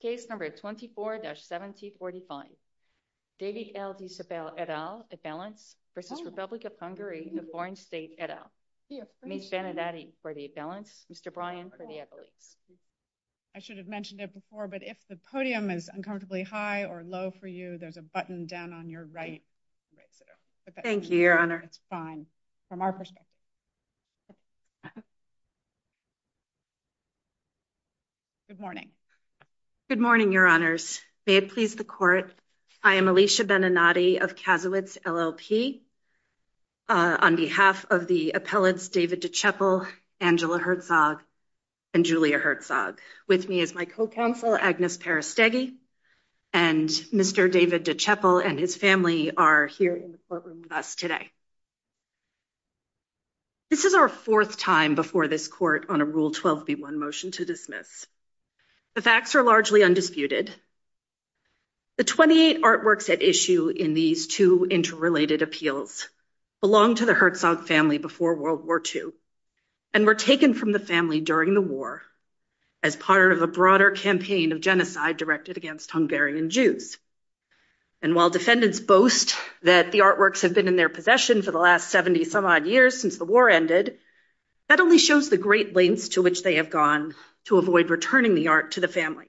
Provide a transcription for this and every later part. Case No. 24-1745, David L. De Csepel et al, a felon, versus Republic of Hungary, a foreign state et al. Mitch Benedetti for the felons, Mr. Brian for the equity. I should have mentioned it before, but if the podium is uncomfortably high or low for you, there's a button down on your right. Thank you, your honor. From our perspective. Good morning, your honors, may it please the court, I am Alicia Beninati of Cazulitz LLP on behalf of the appellates David De Csepel, Angela Herzog, and Julia Herzog. With me is my co-counsel, Agnes Perestegui, and Mr. David De Csepel and his family are in the courtroom with us today. This is our fourth time before this court on a Rule 12b1 motion to dismiss. The facts are largely undisputed. The 28 artworks at issue in these two interrelated appeals belong to the Herzog family before World War II and were taken from the family during the war as part of a broader campaign of genocide directed against Hungarian Jews. And while defendants boast that the artworks have been in their possession for the last 70 some odd years since the war ended, that only shows the great lengths to which they have gone to avoid returning the art to the family.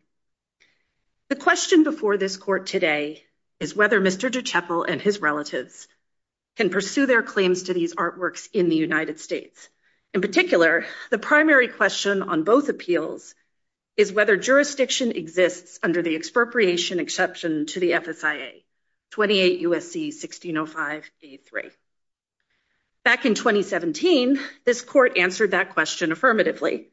The question before this court today is whether Mr. De Csepel and his relatives can pursue their claims to these artworks in the United States. In particular, the primary question on both appeals is whether jurisdiction exists under the expropriation exception to the FSIA, 28 U.S.C. 1605 C.3. Back in 2017, this court answered that question affirmatively,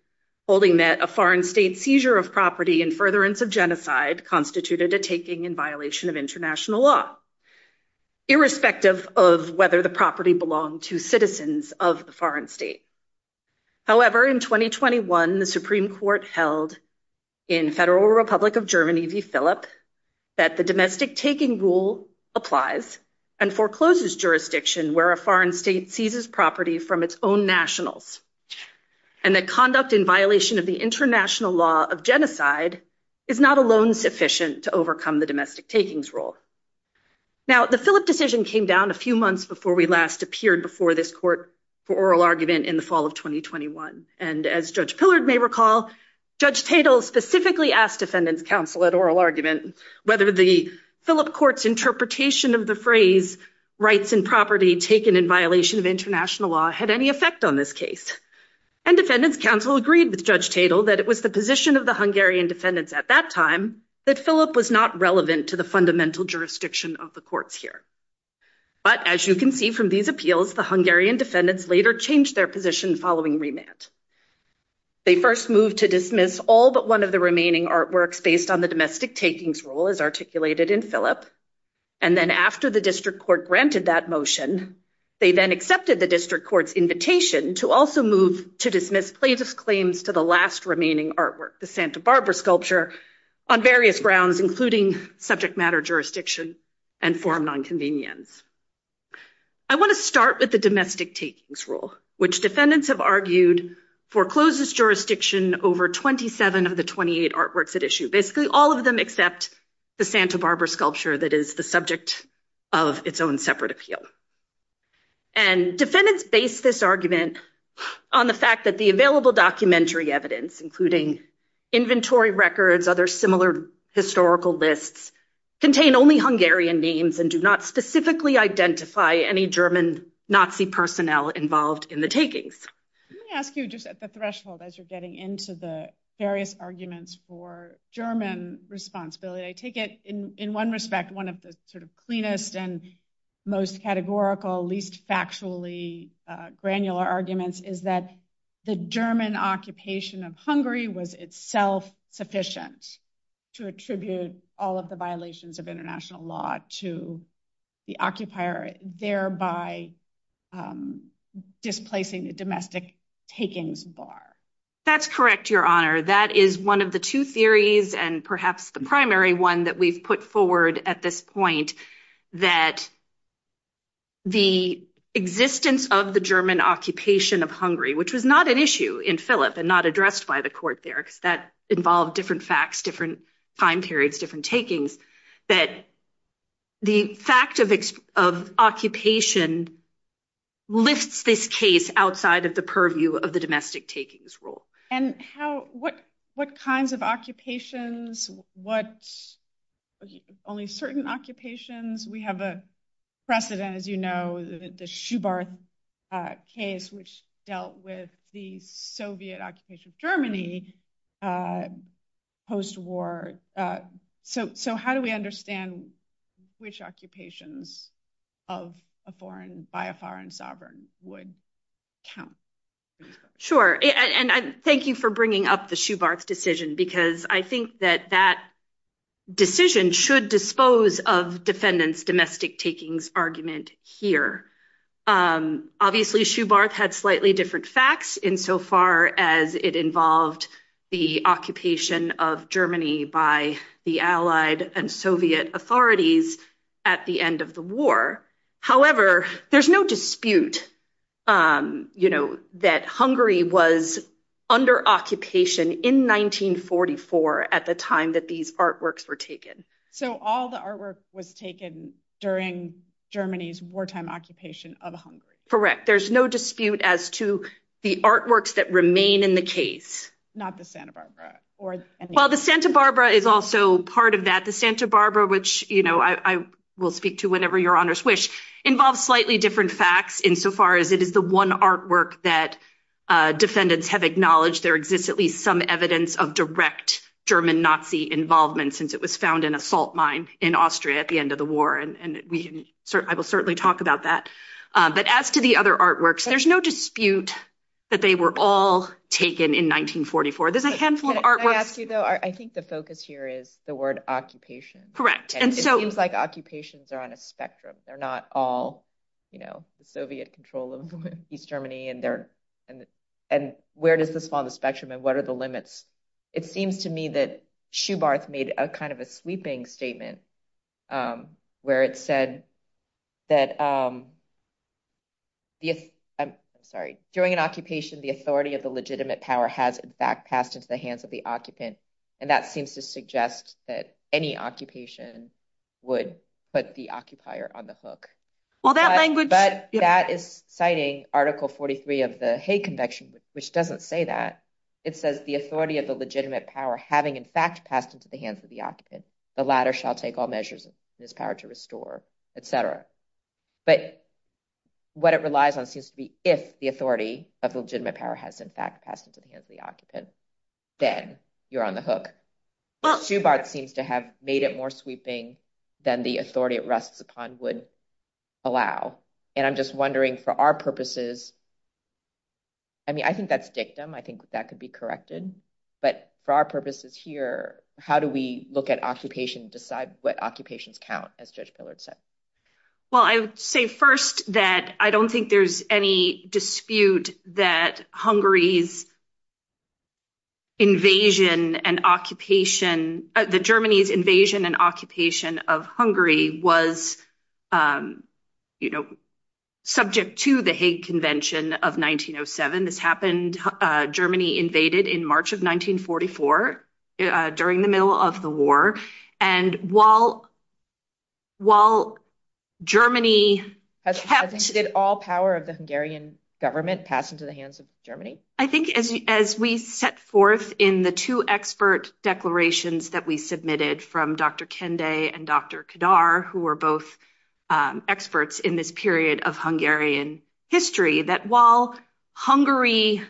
holding that a foreign state seizure of property and furtherance of genocide constituted a taking in violation of international law, irrespective of whether the property belonged to citizens of the foreign state. However, in 2021, the Supreme Court held in Federal Republic of Germany v. Phillips that the domestic taking rule applies and forecloses jurisdiction where a foreign state seizes property from its own nationals and that conduct in violation of the international law of genocide is not alone sufficient to overcome the domestic takings rule. Now, the Phillips decision came down a few months before we last appeared before this court for oral argument in the fall of 2021. And as Judge Pillard may recall, Judge Tatel specifically asked defendants counsel at oral argument whether the Phillips court's interpretation of the phrase rights and property taken in violation of international law had any effect on this case. And defendants counsel agreed with Judge Tatel that it was the position of the Hungarian defendants at that time that Phillips was not relevant to the fundamental jurisdiction of the courts here. But as you can see from these appeals, the Hungarian defendants later changed their position following remand. They first moved to dismiss all but one of the remaining artworks based on the domestic takings rule as articulated in Phillips. And then after the district court granted that motion, they then accepted the district court's invitation to also move to dismiss plaintiff's claims to the last remaining artwork, the Santa Barbara sculpture, on various grounds, including subject matter jurisdiction and foreign nonconvenience. I want to start with the domestic takings rule, which defendants have argued forecloses jurisdiction over 27 of the 28 artworks at issue. Basically, all of them except the Santa Barbara sculpture that is the subject of its own separate appeal. And defendants base this argument on the fact that the available documentary evidence, including inventory records, other similar historical lists, contain only Hungarian names and do not specifically identify any German Nazi personnel involved in the takings. Let me ask you just at the threshold as you're getting into the various arguments for German responsibility, I take it in one respect, one of the sort of cleanest and most categorical, least factually granular arguments is that the German occupation of Hungary was itself sufficient to attribute all of the violations of international law to the occupier, thereby displacing the domestic takings bar. That's correct, Your Honor. That is one of the two theories and perhaps the primary one that we've put forward at this point, that the existence of the German occupation of Hungary, which was not an issue in Philip and not addressed by the court there, because that involved different facts, different time periods, different takings, that the fact of occupation lifts this case outside of the purview of the domestic takings rule. What kinds of occupations, only certain occupations? We have a precedent, as you know, the Schubert case, which dealt with the Soviet occupation of Germany post-war. So how do we understand which occupations of a foreign, by a foreign sovereign, would count? Sure, and thank you for bringing up the Schubert decision, because I think that that decision should dispose of defendants' domestic takings argument here. Obviously, Schubert had slightly different facts insofar as it involved the occupation of Germany by the Allied and Soviet authorities at the end of the war. However, there's no dispute, you know, that Hungary was under occupation in 1944 at the time that these artworks were taken. So all the artwork was taken during Germany's wartime occupation of Hungary. Correct. There's no dispute as to the artworks that remain in the case. Not the Santa Barbara. Well, the Santa Barbara is also part of that. The Santa Barbara, which, you know, I will speak to whenever your honors wish, involves slightly different facts insofar as it is the one artwork that defendants have acknowledged there exists at least some evidence of direct German-Nazi involvement, since it was found in a salt mine in Austria at the end of the war. And I will certainly talk about that. But as to the other artworks, there's no dispute that they were all taken in 1944. There's a handful of artworks. I think the focus here is the word occupation. And it seems like occupations are on a spectrum. They're not all, you know, the Soviet control of East Germany. And where does this fall on the spectrum? And what are the limits? It seems to me that Schubarth made a kind of a sweeping statement where it said that during an occupation, the authority of the legitimate power has, in fact, passed into the hands of the occupant. And that seems to suggest that any occupation would put the occupier on the hook. Well, that language— But that is citing Article 43 of the Hague Convection, which doesn't say that. It says the authority of the legitimate power having, in fact, passed into the hands of the occupant. The latter shall take all measures in his power to restore, et cetera. But what it relies on seems to be if the authority of the legitimate power has, in fact, passed into the hands of the occupant. Then you're on the hook. Schubarth seems to have made it more sweeping than the authority it rests upon would allow. And I'm just wondering, for our purposes—I mean, I think that's dictum. I think that could be corrected. But for our purposes here, how do we look at occupation and decide what occupations count, as Judge Pillard said? Well, I would say first that I don't think there's any dispute that Hungary's invasion and occupation—the Germany's invasion and occupation of Hungary was, you know, subject to the Hague Convention of 1907. This happened—Germany invaded in March of 1944 during the middle of the war. And while Germany— I think she did all power of the Hungarian government passed into the hands of Germany. I think as we set forth in the two expert declarations that we submitted from Dr. Kende and Dr. Kedar, who were both experts in this period of Hungarian history, that while Hungary's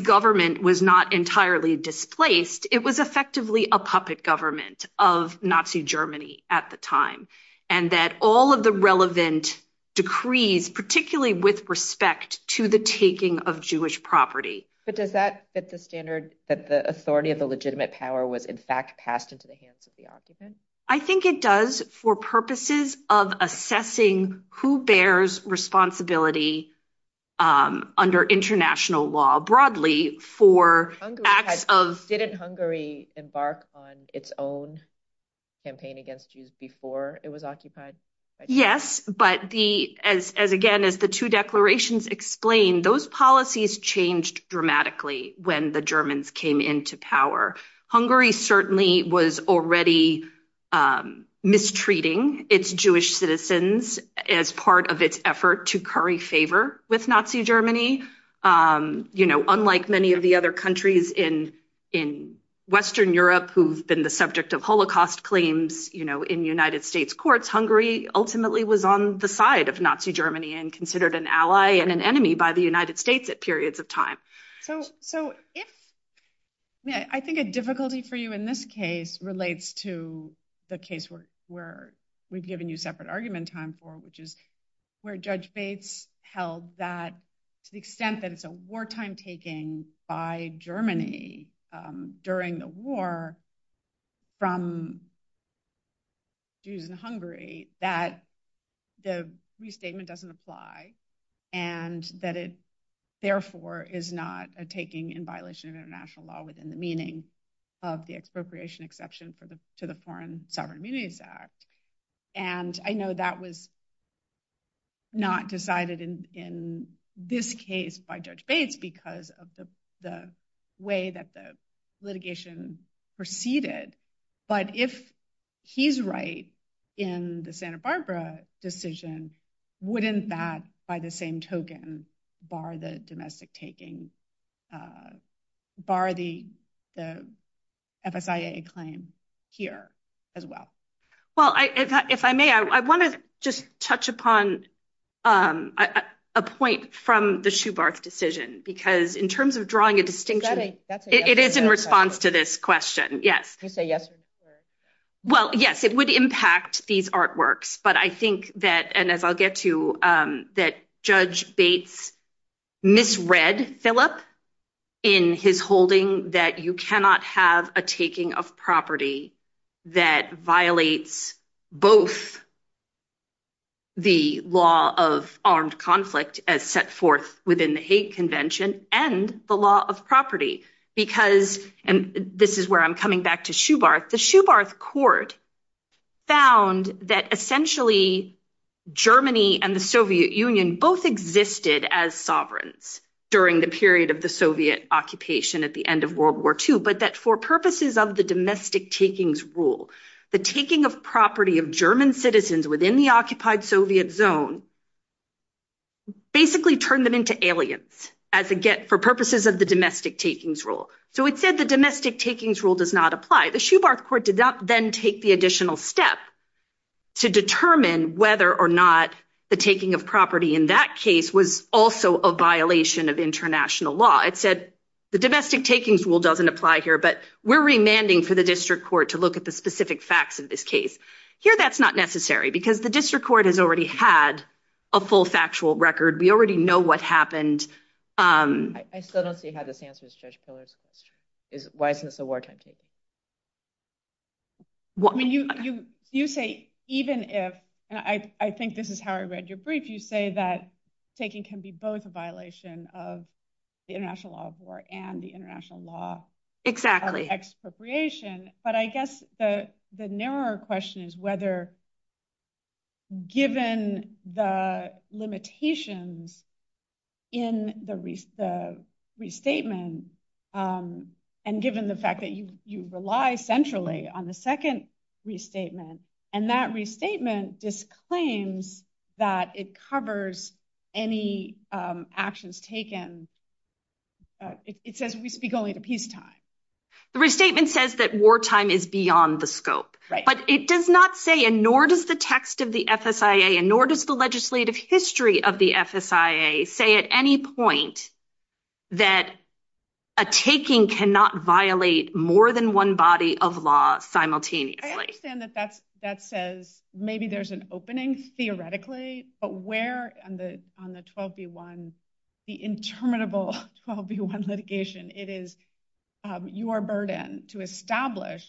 government was not entirely displaced, it was effectively a puppet government of Nazi Germany at the time. And that all of the relevant decrees, particularly with respect to the taking of Jewish property— But does that fit the standard that the authority of the legitimate power was in fact passed into the hands of the occupant? I think it does for purposes of assessing who bears responsibility under international law. Broadly for— Didn't Hungary embark on its own campaign against Jews before it was occupied? Yes, but the—as again, as the two declarations explain, those policies changed dramatically when the Germans came into power. Hungary certainly was already mistreating its Jewish citizens as part of its effort to curry favor with Nazi Germany. Unlike many of the other countries in Western Europe who've been the subject of Holocaust claims in United States courts, Hungary ultimately was on the side of Nazi Germany and considered an ally and an enemy by the United States at periods of time. I think a difficulty for you in this case relates to the case where we've given you separate argument time for, which is where Judge Bates held that to the extent that it's a wartime taking by Germany during the war from Jews in Hungary, that the restatement doesn't apply and that it therefore is not a taking in violation of international law within the meaning of the expropriation exception to the Foreign Sovereign Immunities Act. And I know that was not decided in this case by Judge Bates because of the way that the litigation proceeded, but if he's right in the Santa Barbara decision, wouldn't that, by the same token, bar the domestic taking, bar the FSIA claim here as well? Well, if I may, I want to just touch upon a point from the Schubert decision because in terms of drawing a distinction, it is in response to this question. Yes. Well, yes, it would impact these artworks, but I think that, and as I'll get to, that Judge Bates misread Philip in his holding that you cannot have a taking of property that violates both the law of armed conflict as set forth within the hate convention and the law of property. Because, and this is where I'm coming back to Schubert, the Schubert court found that essentially Germany and the Soviet Union both existed as sovereigns during the period of the Soviet occupation at the end of World War II, but that for purposes of the domestic takings rule, the taking of property of German citizens within the occupied Soviet zone basically turned them into aliens for purposes of the domestic takings rule. So it said the domestic takings rule does not apply. The Schubert court did not then take the additional step to determine whether or not the taking of property in that case was also a violation of international law. It said the domestic takings rule doesn't apply here, but we're remanding for the district court to look at the specific facts of this case. Here, that's not necessary because the district court has already had a full factual record. We already know what happened. I still don't see how this answers Judge Pillard's question. Why isn't this a wartime taking? You say, even if, and I think this is how I read your brief, you say that taking can be both a violation of the international law of war and the international law of expropriation, but I guess the narrower question is whether given the limitations in the restatement and given the fact that you rely centrally on the second restatement, and that restatement disclaims that it covers any actions taken, it says we speak only to peacetime. Restatement says that wartime is beyond the scope, but it does not say, and nor does the text of the FSIA, and nor does the legislative history of the FSIA say at any point that a taking cannot violate more than one body of law simultaneously. I understand that that says maybe there's an opening theoretically, but where on the 12v1, the interminable 12v1 litigation, it is your burden to establish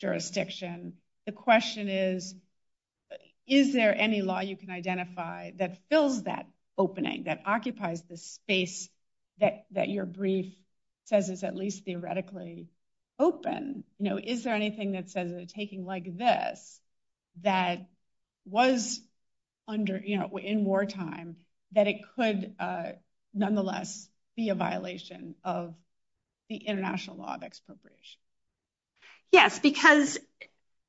jurisdiction. The question is, is there any law you can identify that fills that opening, that occupies the space that your brief says is at least theoretically open? Is there anything that says a taking like this that was in wartime that it could nonetheless be a violation of the international law of expropriation? Yes, because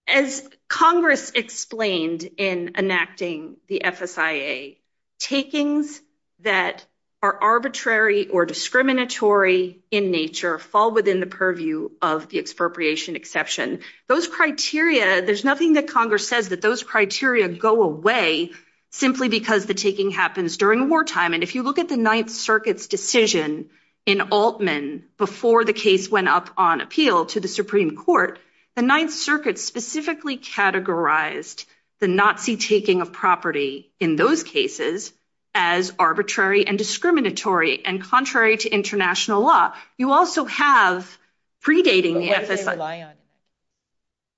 as Congress explained in enacting the FSIA, takings that are arbitrary or discriminatory in nature fall within the purview of the expropriation exception. Those criteria, there's nothing that Congress says that those criteria go away simply because the taking happens during wartime. And if you look at the Ninth Circuit's decision in Altman before the case went up on appeal to the Supreme Court, the Ninth Circuit specifically categorized the Nazi taking of property in those cases as arbitrary and discriminatory and contrary to international law. You also have predating the FSIA.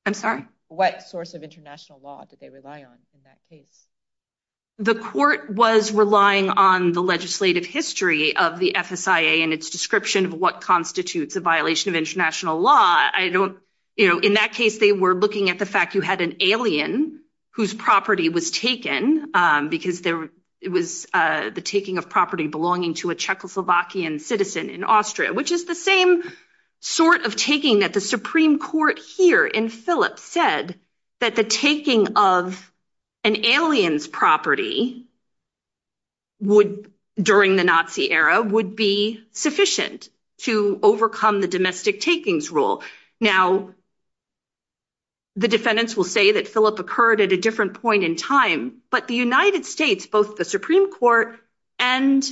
I'm sorry? What source of international law did they rely on in that case? The court was relying on the legislative history of the FSIA and its description of what constitutes a violation of international law. I don't, you know, in that case, they were looking at the fact you had an alien whose property was taken because it was the taking of property belonging to a Czechoslovakian citizen in Austria, which is the same sort of taking that the Supreme Court here in Philip said that the taking of an alien's property during the Nazi era would be sufficient to overcome the domestic takings rule. Now, the defendants will say that Philip occurred at a different point in time, but the United States, both the Supreme Court and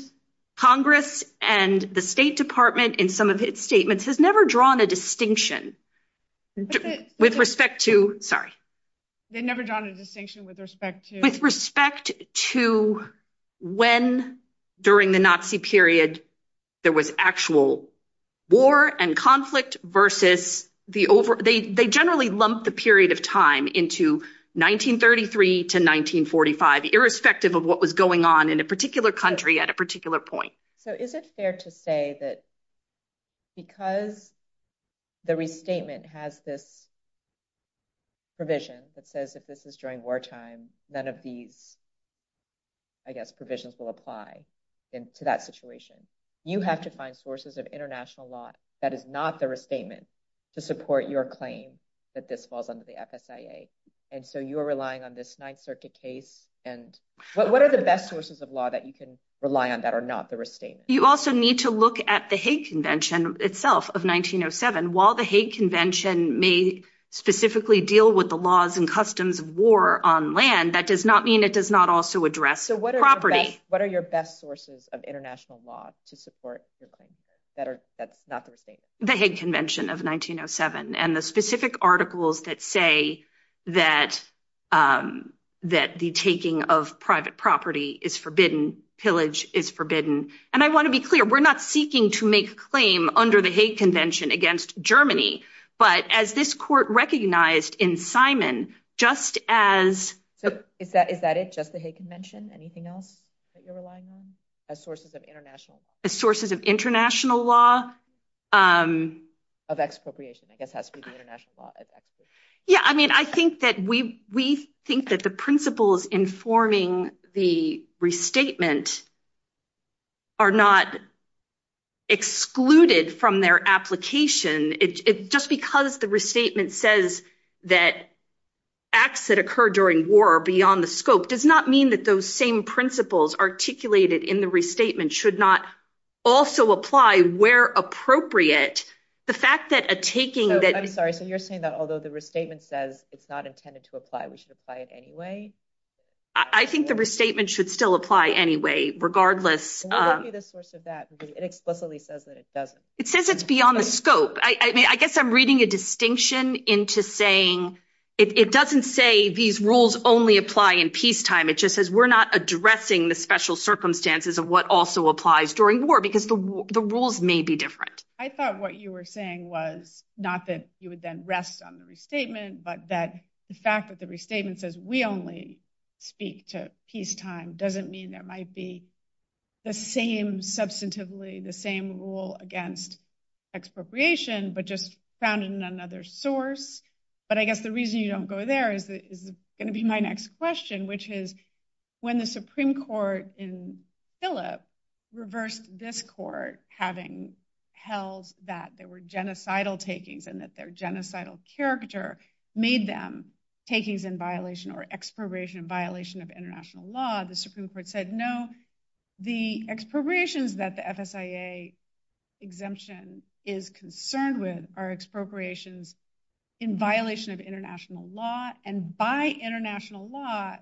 Congress and the State Department in some of its statements has never drawn a distinction with respect to, sorry? They never drawn a distinction with respect to? With respect to when during the Nazi period there was actual war and conflict versus the over, they generally lumped the period of time into 1933 to 1945, irrespective of what was going on in a particular country at a particular point. So is it fair to say that because the restatement has this provision that says that this is during wartime, none of these, I guess, provisions will apply to that situation. You have to find sources of international law that is not the restatement to support your claim that this falls under the FSIA. And so you're relying on this Ninth Circuit case and what are the best sources of law that you can rely on that are not the restatement? You also need to look at the Hague Convention itself of 1907. While the Hague Convention may specifically deal with the laws and customs of war on land, that does not mean it does not also address the property. What are your best sources of international law to support that are not the restatement? The Hague Convention of 1907 and the specific articles that say that the taking of private property is forbidden, pillage is forbidden. And I want to be clear, we're not seeking to make a claim under the Hague Convention against Germany. But as this court recognized in Simon, just as... Is that it, just the Hague Convention? Anything else that you're relying on as sources of international law? Of expropriation, I guess that's the international law. Yeah, I mean, I think that we think that the principles informing the restatement are not excluded from their application. It's just because the restatement says that acts that occur during war are beyond the scope does not mean that those same principles articulated in the restatement should not also apply where appropriate. The fact that a taking that... I'm sorry, so you're saying that although the restatement says it's not intended to apply, we should apply it anyway? I think the restatement should still apply anyway, regardless. I'll give you the source of that. It explicitly says that it doesn't. It says it's beyond the scope. I mean, I guess I'm reading a distinction into saying it doesn't say these rules only apply in peacetime. It just says we're not addressing the special circumstances of what also applies during war because the rules may be different. I thought what you were saying was not that you would then rest on the restatement, but that the fact that the restatement says we only speak to peacetime doesn't mean there might be the same substantively, the same rule against expropriation, but just found in another source. But I guess the reason you don't go there is going to be my next question, which is when the Supreme Court in Phillip reversed this court having held that there were genocidal takings and that their genocidal character made them takings in violation or expropriation of international law, the Supreme Court said no. The expropriations that the FSIA exemption is concerned with are expropriations in violation of international law. And by international law,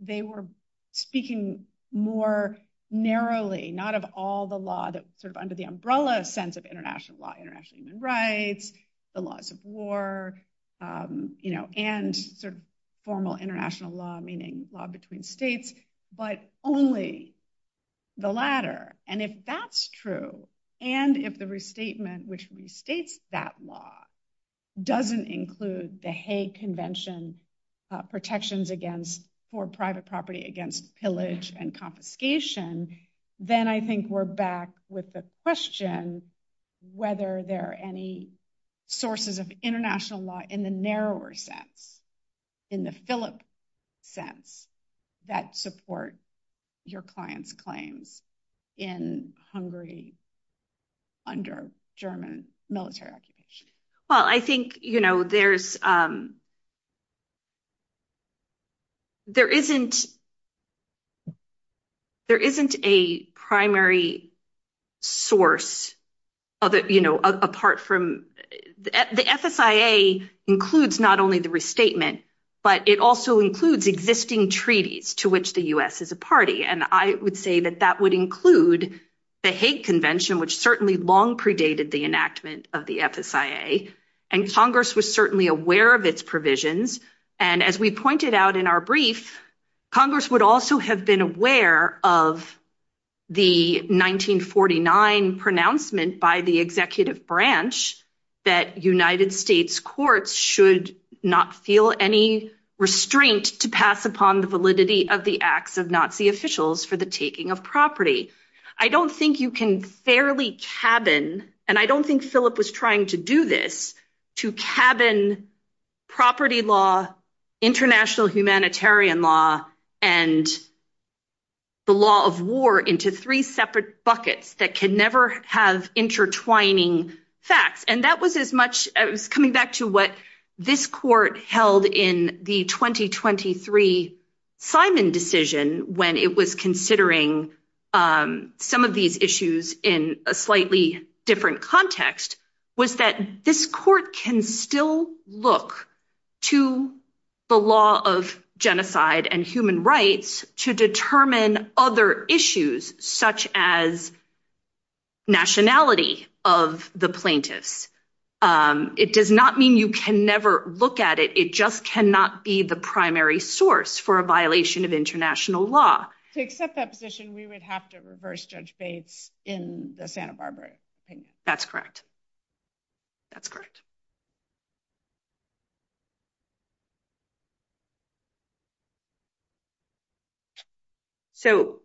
they were speaking more narrowly, not of all the law that's sort of under the umbrella sense of international law, international human rights, the laws of war, and sort of formal international law, meaning law between states, but only the latter. And if that's true, and if the restatement which restates that law doesn't include the Hague Convention protections for private property against pillage and confiscation, then I think we're back with the question whether there are any sources of international law in the narrower sense, in the Phillip sense, that support your client's claim in Hungary under German military occupation. Well, I think, you know, there isn't a primary source of it, you know, apart from the FSIA includes not only the restatement, but it also includes existing treaties to which the U.S. is a party. And I would say that that would include the Hague Convention, which certainly long predated the enactment of the FSIA, and Congress was certainly aware of its provisions. And as we pointed out in our brief, Congress would also have been aware of the 1949 pronouncement by the executive branch that United States courts should not feel any restraint to pass upon the validity of the acts of Nazi officials for the taking of property. I don't think you can fairly cabin, and I don't think Phillip was trying to do this, to cabin property law, international humanitarian law, and the law of war into three separate buckets that can never have intertwining facts. And that was as much as coming back to what this court held in the 2023 Simon decision when it was considering some of these issues in a slightly different context was that this court can still look to the law of genocide and human rights to determine other issues such as nationality of the plaintiff. It does not mean you can never look at it. It just cannot be the primary source for a violation of international law. To accept that position, we would have to reverse Judge Bates in the Santa Barbara case. That's correct. That's correct. So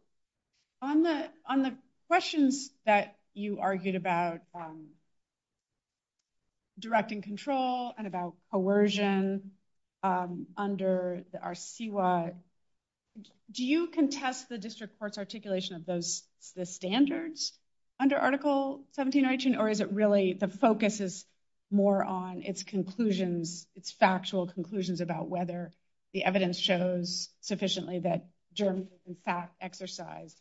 on the questions that you argued about direct and control and about coercion under the RCWA, do you contest the district court's articulation of those standards under Article 1719, or is it really the focus is more on its conclusions, its factual conclusions about whether the evidence shows sufficiently that Germans in fact exercised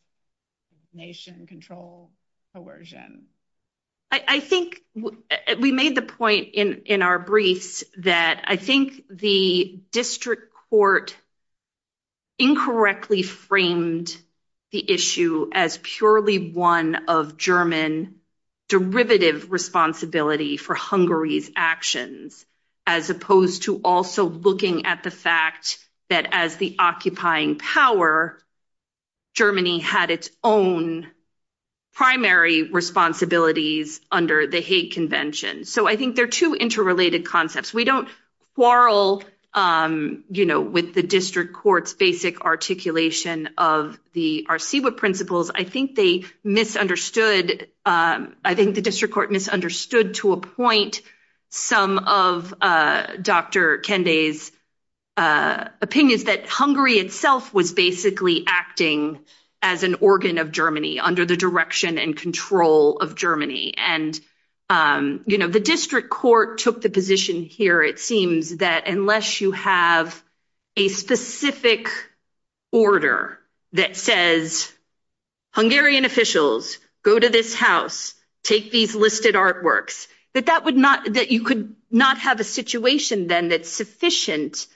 nation control coercion? I think we made the point in our brief that I think the district court incorrectly framed the issue as purely one of German derivative responsibility for Hungary's actions as opposed to also looking at the fact that as the occupying power, Germany had its own primary responsibilities under the hate convention. So I think they're two interrelated concepts. We don't quarrel with the district court's basic articulation of the RCWA principles. I think they misunderstood. I think the district court misunderstood to a point some of Dr. Kende's opinions that Hungary itself was basically acting as an organ of Germany under the direction and control of Germany. And the district court took the position here, it seems, that unless you have a specific order that says, Hungarian officials, go to this house, take these listed artworks, that you could not have a situation then that's sufficient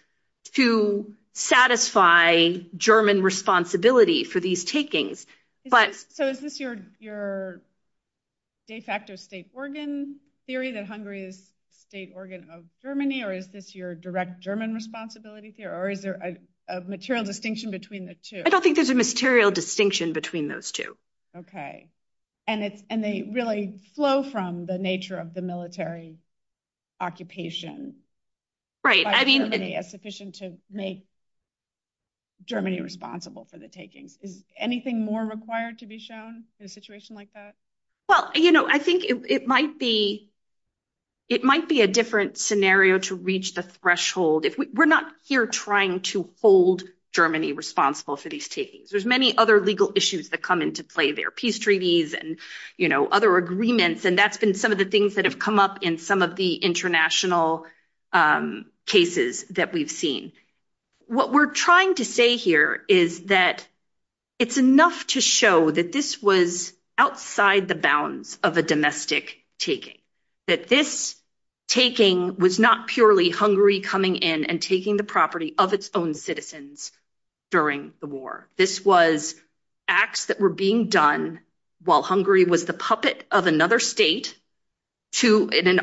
to satisfy German responsibility for these takings. So is this your de facto state organ theory that Hungary is the state organ of Germany? Or is this your direct German responsibility theory? Or is there a material distinction between the two? I don't think there's a material distinction between those two. OK. And they really flow from the nature of the military occupation. Right. I mean, it's sufficient to make Germany responsible for the taking. Anything more required to be shown in a situation like that? Well, I think it might be a different scenario to reach the threshold. We're not here trying to hold Germany responsible for these takings. There's many other legal issues that come into play there, peace treaties and other agreements. And that's been some of the things that have come up in some of the international cases that we've seen. What we're trying to say here is that it's enough to show that this was outside the bounds of a domestic taking. That this taking was not purely Hungary coming in and taking the property of its own citizens during the war. This was acts that were being done while Hungary was the puppet of another state to, in an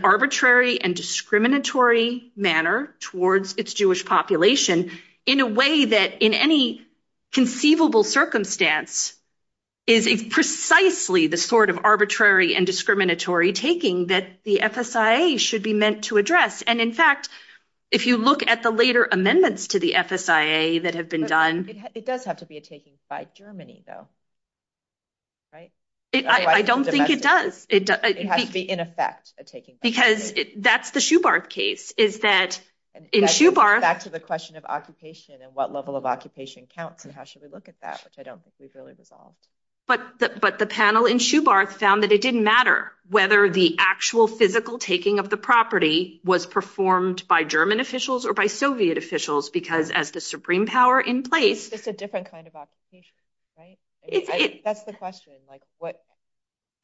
in a way that in any conceivable circumstance is precisely the sort of arbitrary and discriminatory taking that the FSIA should be meant to address. And in fact, if you look at the later amendments to the FSIA that have been done. It does have to be a taking by Germany, though. Right. I don't think it does. It has to be, in effect, a taking. Because that's the Schubert case. Is that in Schubert. Back to the question of occupation and what level of occupation counts and how should we look at that, which I don't think is really resolved. But the panel in Schubert found that it didn't matter whether the actual physical taking of the property was performed by German officials or by Soviet officials, because as the supreme power in place. It's a different kind of occupation, right? That's the question.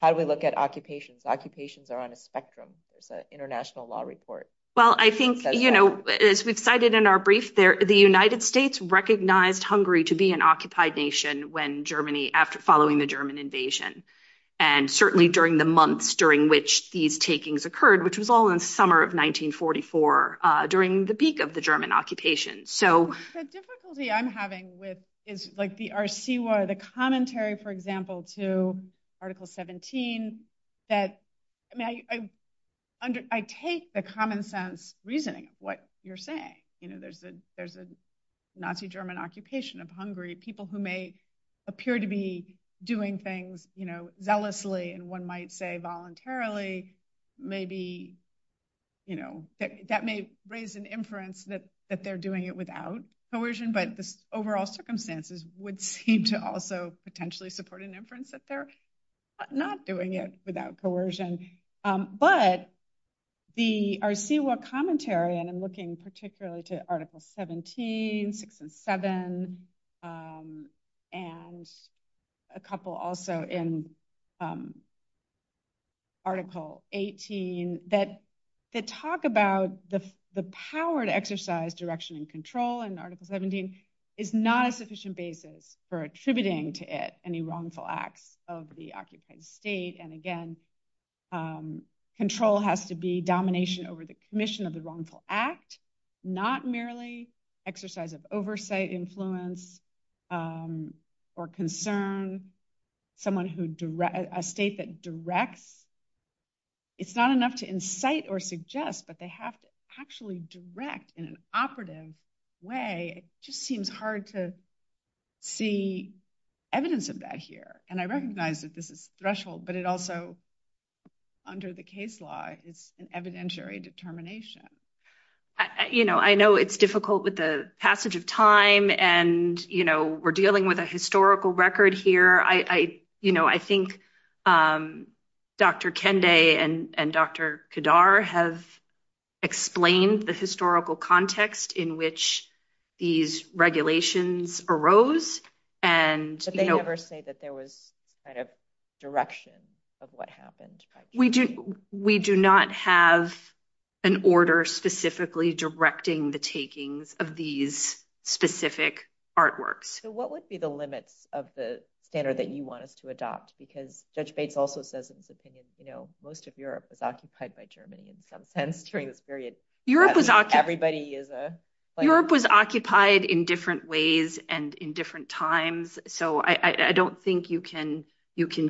How do we look at occupations? Occupations are on a spectrum. It's an international law report. Well, I think, you know, as we cited in our brief there, the United States recognized Hungary to be an occupied nation when Germany, after following the German invasion. And certainly during the months during which these takings occurred, which was all in the summer of 1944 during the peak of the German occupation. So the difficulty I'm having with is like the RC, where the commentary, for example, to Article 17, that I take the common sense reasoning of what you're saying. You know, there's a Nazi German occupation of Hungary. People who may appear to be doing things, you know, zealously and one might say voluntarily maybe, you know, that may raise an inference that they're doing it without coercion. But the overall circumstances would seem to also potentially support an inference that they're not doing it without coercion. But the RC, what commentary, and I'm looking particularly to Article 17, 6 and 7, and a couple also in Article 18, that they talk about the power to exercise direction and control, and Article 17 is not a sufficient basis for attributing to it any wrongful act of the occupied state. And again, control has to be domination over the commission of the wrongful act, not merely exercise of oversight, influence, or concern. Someone who directs, a state that directs, it's not enough to incite or suggest that they have to actually direct in an operative way. It just seems hard to see evidence of that here. And I recognize that this is threshold, but it also, under the case law, is an evidentiary determination. You know, I know it's difficult with the passage of time and, you know, we're dealing with a historical record here. You know, I think Dr. Kende and Dr. Kadar have explained the historical context in which these regulations arose. But they never say that there was kind of direction of what happened. We do not have an order specifically directing the takings of these specific artworks. So what would be the limit of the standard that you want us to adopt? Because Judge Bates also says in his opinion, you know, most of Europe was occupied by Germany in some sense during this period. Everybody is a... Europe was occupied in different ways and in different times. So I don't think you can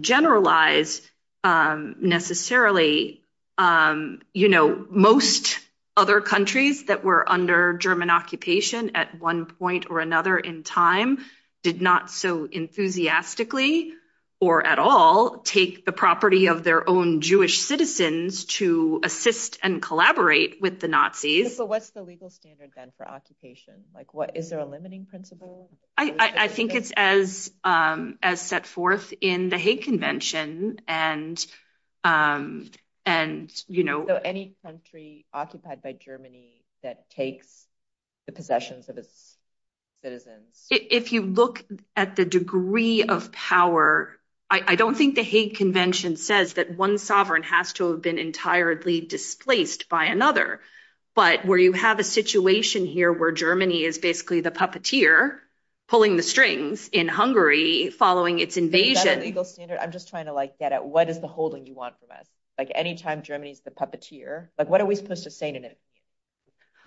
generalize necessarily, you know, most other countries that were under German occupation at one point or another in time did not so enthusiastically or at all take the property of their own Jewish citizens to assist and collaborate with the But what's the legal standard then for occupation? Like, is there a limiting principle? I think it's as set forth in the Hague Convention and, you know... So any country occupied by Germany that takes the possessions of its citizens... If you look at the degree of power, I don't think the Hague Convention says that one sovereign has to have been entirely displaced by another. But where you have a situation here where Germany is basically the puppeteer pulling the strings in Hungary following its invasion... Is that a legal standard? I'm just trying to like get at what is the holding you want from us? Like anytime Germany is the puppeteer, like what are we supposed to say to them?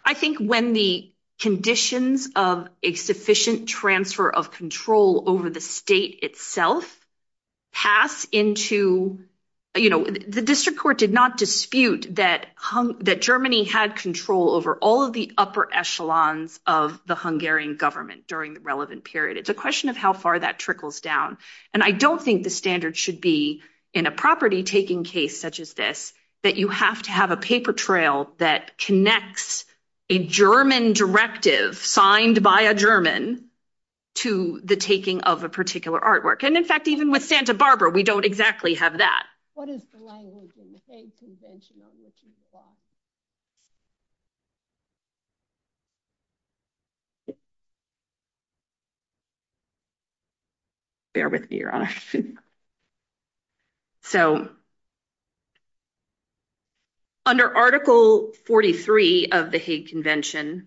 I think when the conditions of a sufficient transfer of control over the state itself pass into, you know... The district court did not dispute that Germany had control over all of the upper echelons of the Hungarian government during the relevant period. It's a question of how far that trickles down. And I don't think the standard should be in a property-taking case such as this, that you have to have a paper trail that connects a German directive signed by a German to the taking of a particular artwork. And in fact, even with Santa Barbara, we don't exactly have that. What is the language in the Hague Convention on which you apply? Bear with me, your honor. So, under Article 43 of the Hague Convention,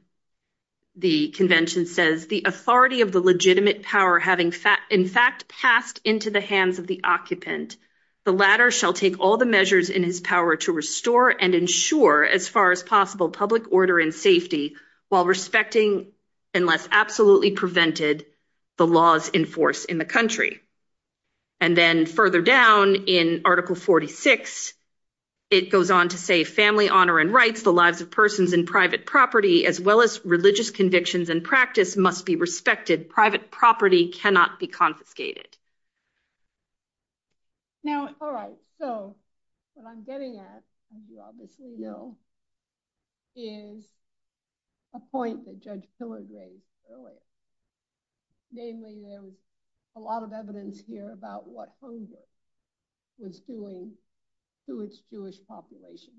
the convention says, the authority of the legitimate power having in fact passed into the hands of the occupant, the latter shall take all the measures in his power to restore and ensure as far as possible public order and safety while respecting unless absolutely prevented the laws enforced in the country. And then further down in Article 46, it goes on to say, family honor and rights, the lives of persons in private property as well as religious convictions and practice must be respected. Private property cannot be confiscated. Now, all right. So, what I'm getting at, as you obviously know, is a point that Judge Piller gave earlier. Namely, there's a lot of evidence here about what Hunger was doing to its Jewish population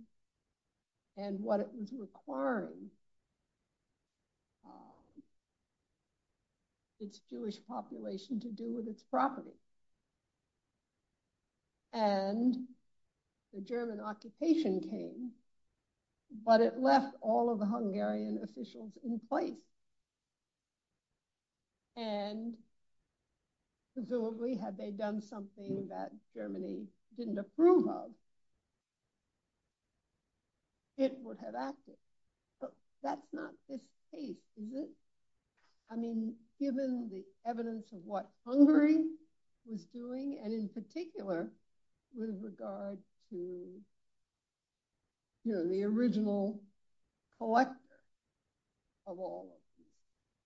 and what it was requiring its Jewish population to do with its property. And the German occupation came, but it left all of the Hungarian officials in place. And presumably, had they done something that Germany didn't approve of, it would have acted. But that's not the case, is it? I mean, given the evidence of what Hungary was doing, and in particular, with regard to the original collector of all of these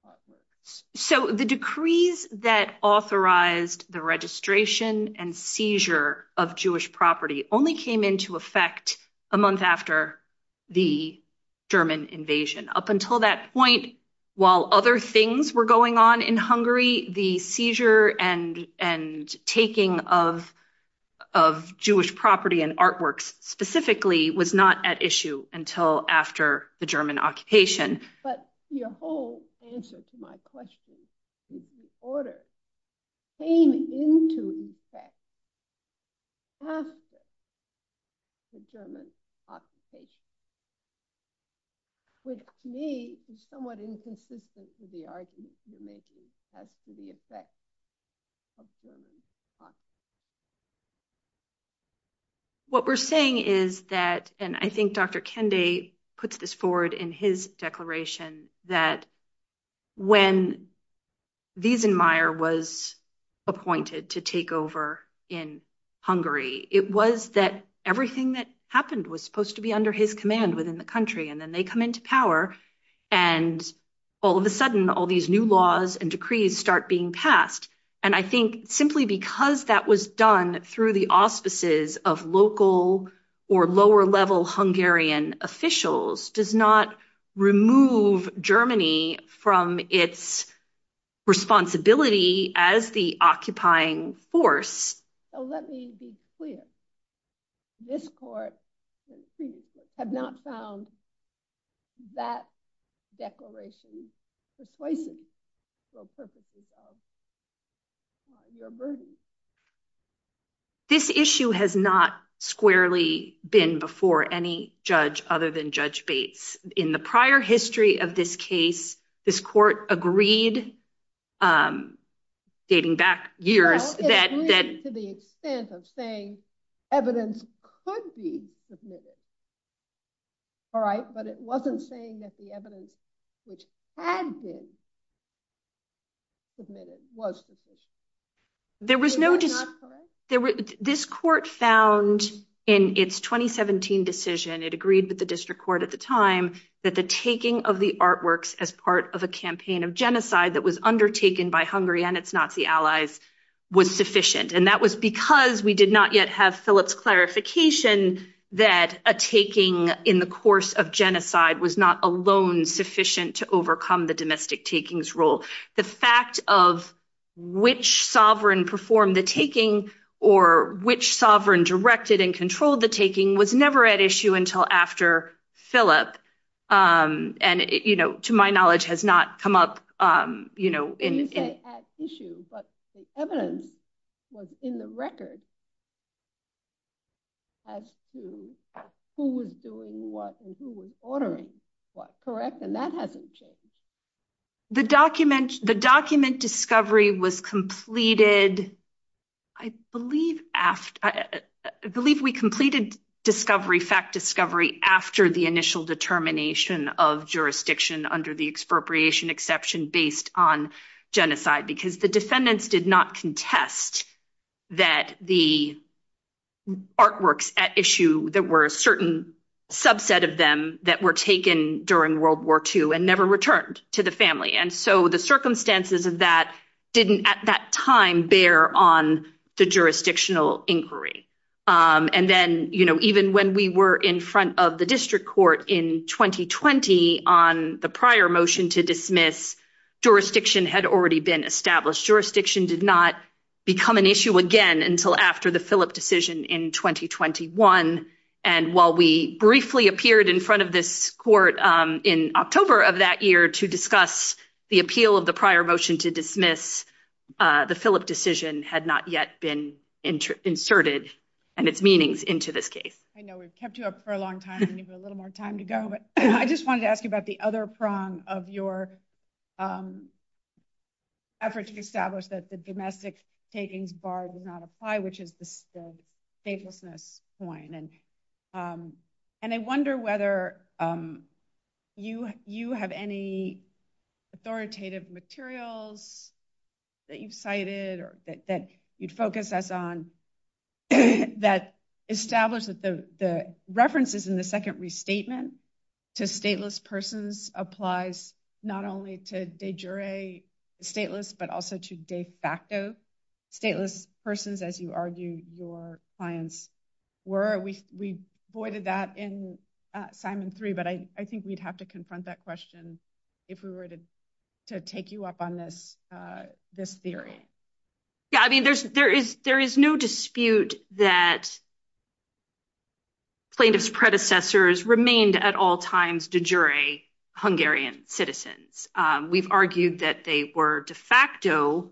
properties. So, the decrees that authorized the registration and seizure of Jewish property only came into effect a month after the German invasion. Up until that point, while other things were going on in Hungary, the seizure and taking of Jewish property and artworks specifically was not at issue until after the German occupation. But your whole answer to my question is the order came into effect after the German occupation, which to me is somewhat inconsistent with the argument you're making as to the effect of German occupation. What we're saying is that, and I think Dr. Kendi puts this forward in his declaration, that when Wiesenmayer was appointed to take over in Hungary, it was that everything that happened was supposed to be under his command within the country. And then they come into power, and all of a sudden, all these new laws and decrees start being passed. And I think simply because that was done through the auspices of local or lower-level Hungarian officials does not remove Germany from its responsibility as the occupying force. So let me be clear. This court has not found that declaration persuasive. This issue has not squarely been before any judge other than Judge Bates. In the prior history of this case, this court agreed, dating back years, that— Well, it agreed to the extent of saying evidence could be submitted. All right? But it wasn't saying that the evidence which had been submitted was the decision. There was no— Is that correct? This court found in its 2017 decision—it agreed with the district court at the time—that the taking of the artworks as part of a campaign of genocide that was undertaken by Hungary and its Nazi allies was sufficient. And that was because we did not yet have Phillips' clarification that a taking in the course of genocide was not alone sufficient to overcome the domestic takings rule. The fact of which sovereign performed the taking or which sovereign directed and controlled the taking was never at issue until after Phillips, and to my knowledge, has not come up in— You say at issue, but the evidence was in the record as to who was doing what and who was ordering what, correct? And that hasn't changed. The document discovery was completed—I believe we completed discovery, fact discovery, after the initial determination of jurisdiction under the expropriation exception based on genocide, because the defendants did not contest that the artworks at issue—there were a subset of them that were taken during World War II and never returned to the family. And so the circumstances of that didn't, at that time, bear on the jurisdictional inquiry. And then, you know, even when we were in front of the district court in 2020 on the prior motion to dismiss, jurisdiction had already been established. Jurisdiction did not become an issue again until after the Phillips decision in 2021. And while we briefly appeared in front of this court in October of that year to discuss the appeal of the prior motion to dismiss, the Phillips decision had not yet been inserted and its meanings into this case. I know we've kept you up for a long time. We need a little more time to go. But I just wanted to ask you about the other prong of your effort to establish that the stateless persons, as you argue your clients, were at least in the second restatement. And I wonder whether you have any authoritative materials that you cited or that you'd focus us on that establish that the references in the second restatement to stateless persons applies not only to de jure stateless but also to de facto stateless persons, as you your clients were. We voided that in Simon 3, but I think we'd have to confront that question if we were to take you up on this theory. Yeah. I mean, there is no dispute that plaintiff's predecessors remained at all times de jure Hungarian citizens. We've argued that they were de facto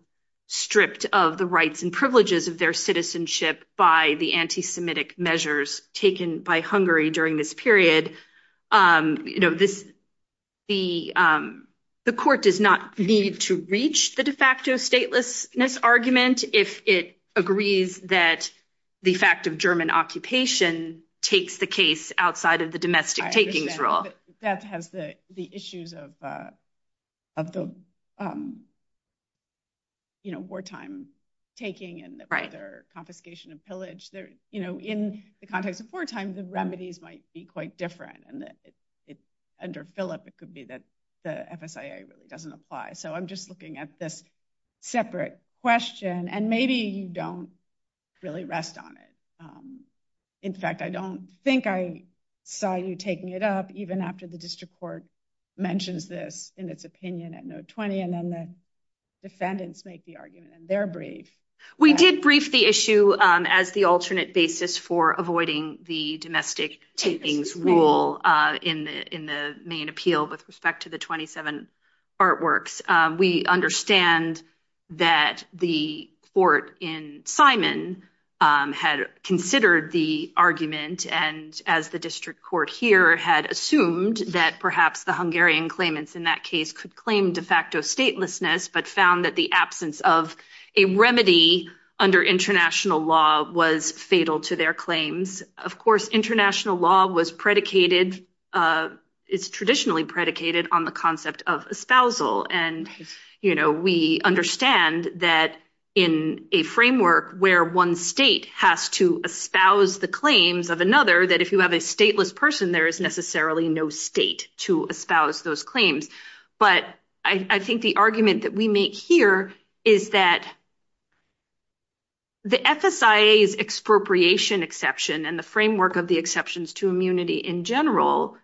stripped of the rights and privileges of their citizenship by the anti-Semitic measures taken by Hungary during this period. The court does not need to reach the de facto statelessness argument if it agrees that the fact of German occupation takes the case outside of the domestic taking rule. That has the issues of the wartime taking and the confiscation of pillage. In the context of wartime, the remedies might be quite different. And under Philip, it could be that the FSIA doesn't apply. So I'm just looking at this separate question. And maybe you don't really rest on it. In fact, I don't think I saw you taking it up even after the district court mentions this in its opinion at note 20. And then the defendants make the argument in their brief. We did brief the issue as the alternate basis for avoiding the domestic takings rule in the main appeal with respect to the 27 artworks. We understand that the court in Simon had considered the argument and as the district court here had assumed that perhaps the Hungarian claimants in that case could claim de facto statelessness but found that the absence of a remedy under international law was fatal to their claims. Of course, international law was predicated, it's traditionally predicated on the concept of espousal. And we understand that in a framework where one state has to espouse the claims of another, that if you have a stateless person, there is necessarily no state to espouse those claims. But I think the argument that we make here is that the FSIA's expropriation exception and the framework of the exceptions to immunity in general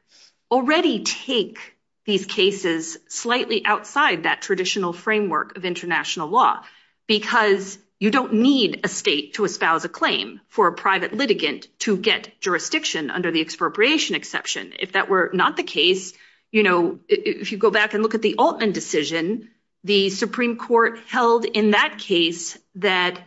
already take these cases slightly outside that traditional framework of international law because you don't need a state to espouse a claim for a private litigant to get jurisdiction under the expropriation exception. If that were not the case, if you go back and look at the Altman decision, the Supreme Court held in that case that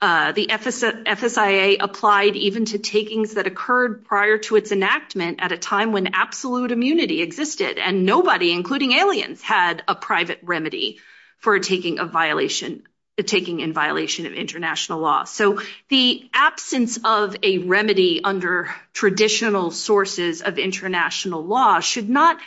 the FSIA applied even to takings that occurred prior to its enactment at a time when absolute immunity existed and nobody, including aliens, had a private remedy for a taking of violation, a taking in violation of international law. So the absence of a remedy under traditional sources of international law should not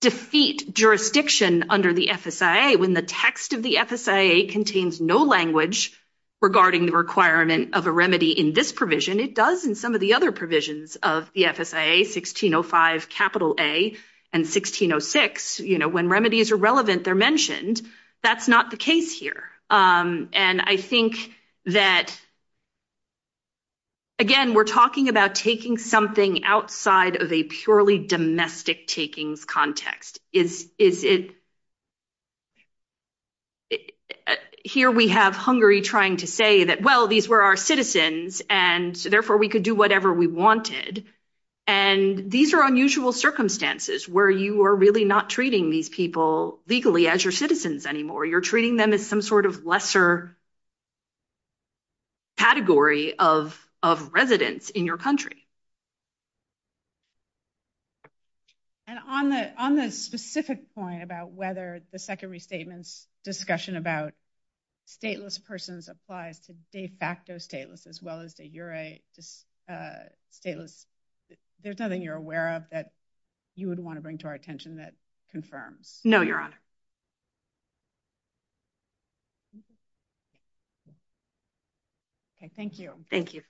defeat jurisdiction under the FSIA when the text of the FSIA contains no language regarding the requirement of a remedy in this provision. It does in some of the other provisions of the FSIA, 1605 capital A and 1606, when remedies are relevant, they're mentioned. That's not the case here. And I think that, again, we're talking about taking something outside of a purely domestic takings context. Is it here we have Hungary trying to say that, well, these were our citizens, and therefore we could do whatever we wanted. And these are unusual circumstances where you are really not treating these people legally as your citizens anymore. You're treating them as some sort of lesser category of residents in your country. And on the specific point about whether the Second Restatement's discussion about stateless persons applies to de facto stateless as well as the EURA stateless, there's nothing you're aware of that you would want to bring to our attention that confirms? No, Your Honor. Okay. Thank you. Thank you. Thank you.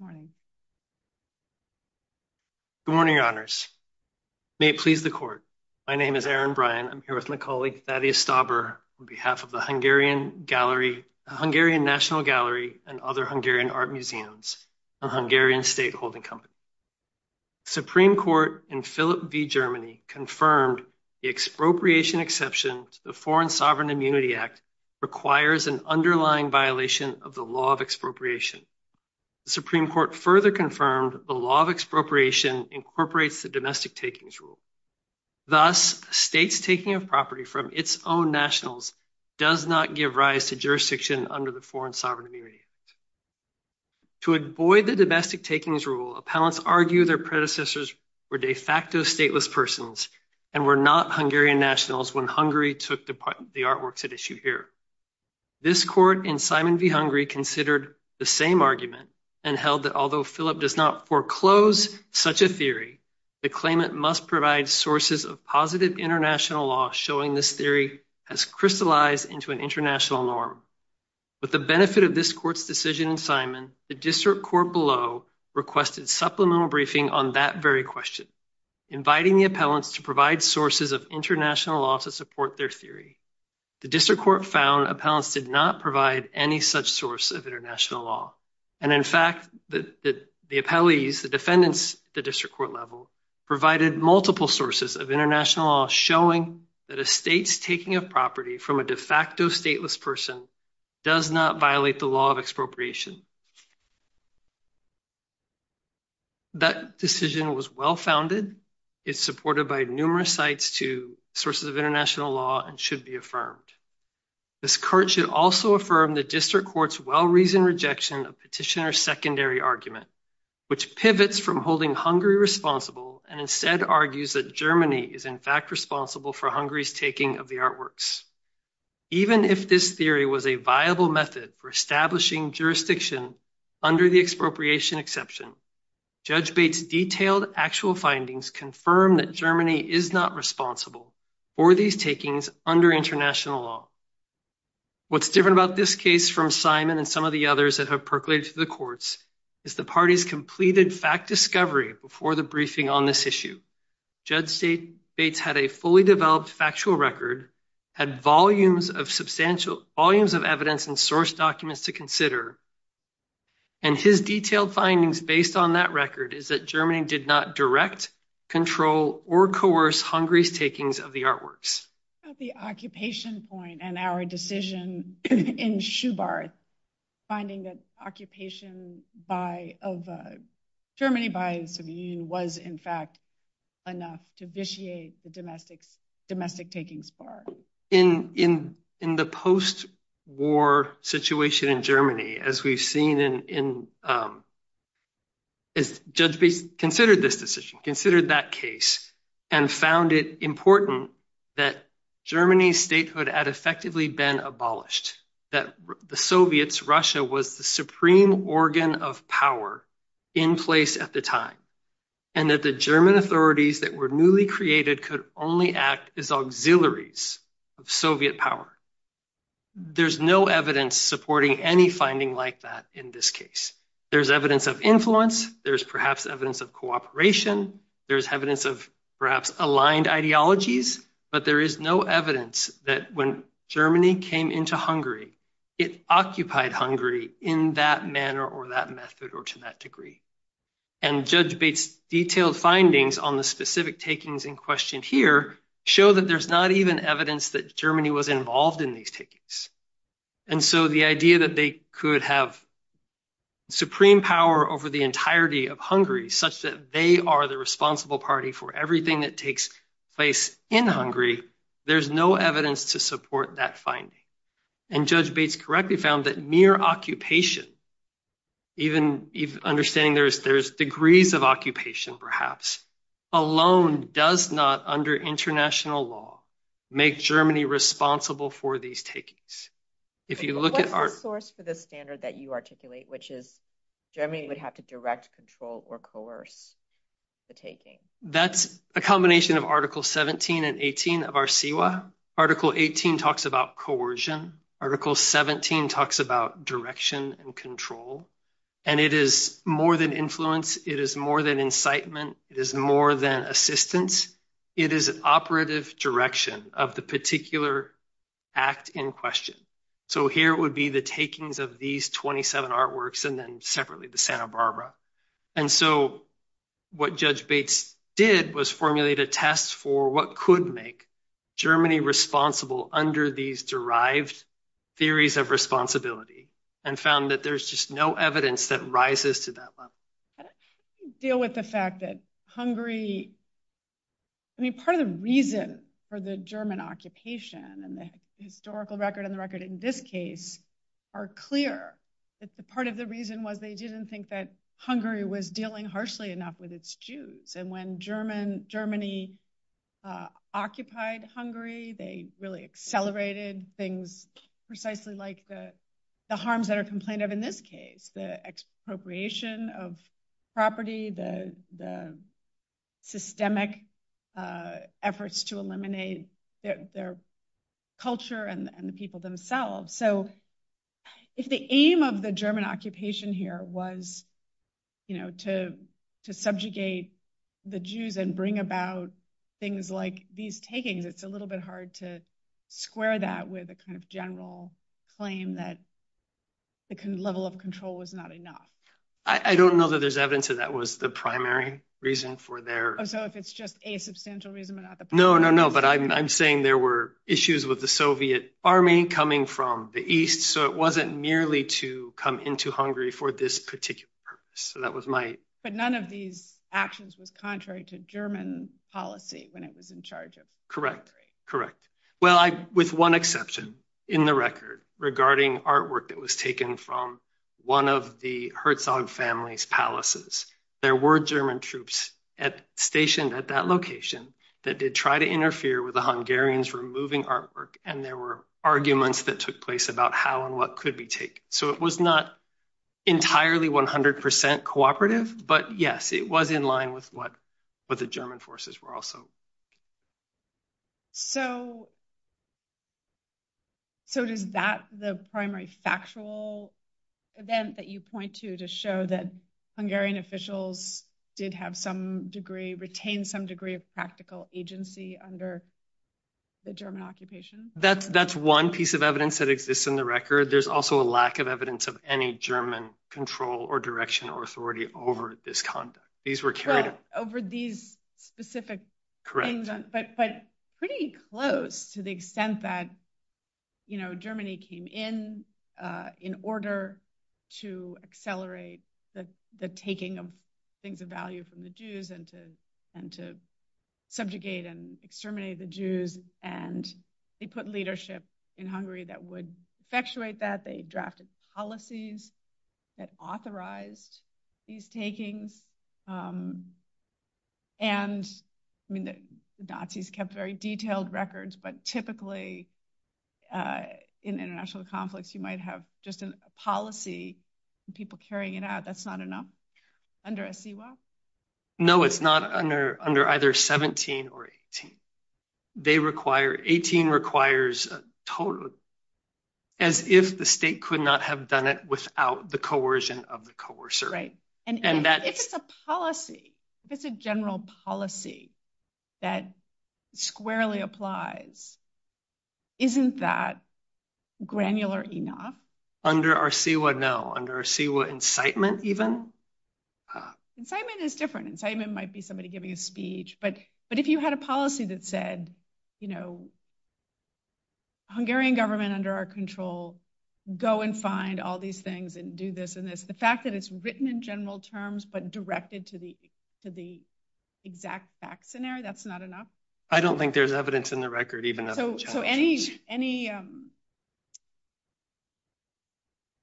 Good morning, Your Honors. May it please the Court. My name is Aaron Bryan. I'm here with my colleague, Thaddeus Stauber, on behalf of the Hungarian National Gallery and other Hungarian art museums and Hungarian state holding companies. Supreme Court in Philippi, Germany, confirmed the expropriation exception to the Foreign Sovereign Immunity Act requires an underlying violation of the law of expropriation. The Supreme Court further confirmed the law of expropriation incorporates the domestic takings rule. Thus, states taking a property from its own nationals does not give rise to jurisdiction under the Foreign Sovereign Immunity Act. To avoid the domestic takings rule, appellants argue their predecessors were de facto stateless personals and were not Hungarian nationals when Hungary took the artworks at issue here. This court in Simon v. Hungary considered the same argument and held that although Philippi does not foreclose such a theory, the claimant must provide sources of positive international law showing this theory has crystallized into an international norm. With the benefit of this court's decision in Simon, the district court below requested supplemental briefing on that very question, inviting the appellants to provide sources of international law to support their theory. The district court found appellants did not provide any such source of international law. And in fact, the appellees, the defendants, the district court level provided multiple sources of international law showing that a state's taking a property from a de facto stateless person does not violate the law of expropriation. That decision was well founded. It's supported by numerous sites to sources of international law and should be affirmed. This court should also affirm the district court's well-reasoned rejection of petitioner's secondary argument, which pivots from holding Hungary responsible and instead argues that Germany is in fact responsible for Hungary's taking of the artworks. Even if this theory was a viable method for establishing jurisdiction under the expropriation exception, Judge Bates' detailed actual findings confirm that Germany is not responsible for these takings under international law. What's different about this case from Simon and some of the others that have percolated to the courts is the party's completed fact discovery before the briefing on this issue. Judge Bates had a fully developed factual record, had volumes of evidence and source documents to consider, and his detailed findings based on that record is that Germany did not direct, control, or coerce Hungary's takings of the artworks. At the occupation point and our decision in Schubarth, finding that occupation of Germany by the EU was in fact enough to vitiate the domestic takings part. In the post-war situation in Germany, as we've seen, Judge Bates considered this decision, considered that case, and found it important that Germany's statehood had effectively been abolished, that the Soviets, Russia, was the supreme organ of power in place at the time, and that the German authorities that were newly created could only act as auxiliaries of Soviet power. There's no evidence supporting any finding like that in this case. There's evidence of influence, there's perhaps evidence of cooperation, there's evidence of perhaps aligned ideologies, but there is no evidence that when Germany came into Hungary, it occupied Hungary in that manner or that method or to that degree. And Judge Bates' detailed findings on the specific takings in question here show that there's not even evidence that Germany was involved in these takings. And so the idea that they could have supreme power over the entirety of Hungary, such that they are the responsible party for everything that takes place in Hungary, there's no evidence to support that finding. And Judge Bates correctly found that mere occupation, even understanding there's degrees of occupation perhaps, alone does not, under international law, make Germany responsible for these takings. If you look at- What's the source for the standard that you articulate, which is Germany would have to direct, control, or coerce the taking? That's a combination of Article 17 and 18 of our CIWA. Article 18 talks about coercion. Article 17 talks about direction and control. And it is more than influence, it is more than incitement, it is more than assistance. It is an operative direction of the particular act in question. So here would be the takings of these 27 artworks and then separately the And so what Judge Bates did was formulate a test for what could make Germany responsible under these derived theories of responsibility and found that there's just no evidence that rises to that level. Deal with the fact that Hungary- I mean, part of the reason for the German occupation and the historical record and the record in this case are clear. Part of the reason was they didn't think that Hungary was dealing harshly enough with its Jews. And when Germany occupied Hungary, they really accelerated things precisely like the harms that are complained of in this case, the expropriation of property, the systemic efforts to eliminate their culture and the people themselves. So if the aim of the German occupation here was to subjugate the Jews and bring about things like these takings, it's a little bit hard to square that with a kind of general claim that the level of control was not enough. I don't know that there's evidence that that was the primary reason for their- Oh, so if it's just a substantial reason but not the- No, no, no. But I'm saying there were issues with the Soviet army coming from the east, so it wasn't merely to come into Hungary for this particular purpose. So that was my- But none of these actions was contrary to German policy when it was in charge of- Correct. Correct. Well, with one exception in the record regarding artwork that was taken from one of the Herzog family's palaces, there were German troops stationed at that location that tried to interfere with the Hungarians removing artwork and there were arguments that took place about how and what could be taken. So it was not entirely 100% cooperative, but yes, it was in line with what the German forces were also. So does that, the primary factual event that you point to to show that Hungarian officials did have some degree, retained some degree of practical agency under the German occupation? That's one piece of evidence that exists in the record. There's also a lack of evidence of any German control or direction or authority over this conduct. These were carried- Over these specific things. But pretty close to the extent that Germany came in in order to accelerate the taking of things of value from the Jews and to subjugate and exterminate the Jews. And they put leadership in Hungary that would effectuate that. They drafted policies that authorized these takings. And the Nazis kept very detailed records, but you might have just a policy and people carrying it out. That's not enough under a CWO? No, it's not under either 17 or 18. They require, 18 requires a total, as if the state could not have done it without the coercion of the coercer. And if it's a policy, if it's a general policy that squarely applies, isn't that granular enough? Under a CWO, no. Under a CWO incitement even? Incitement is different. Incitement might be somebody giving a speech, but if you had a policy that said, Hungarian government under our control, go and find all these things and do this and this, the fact that it's written in general terms, but directed to the exact fact scenario, that's not enough? I don't think there's evidence in the record. So any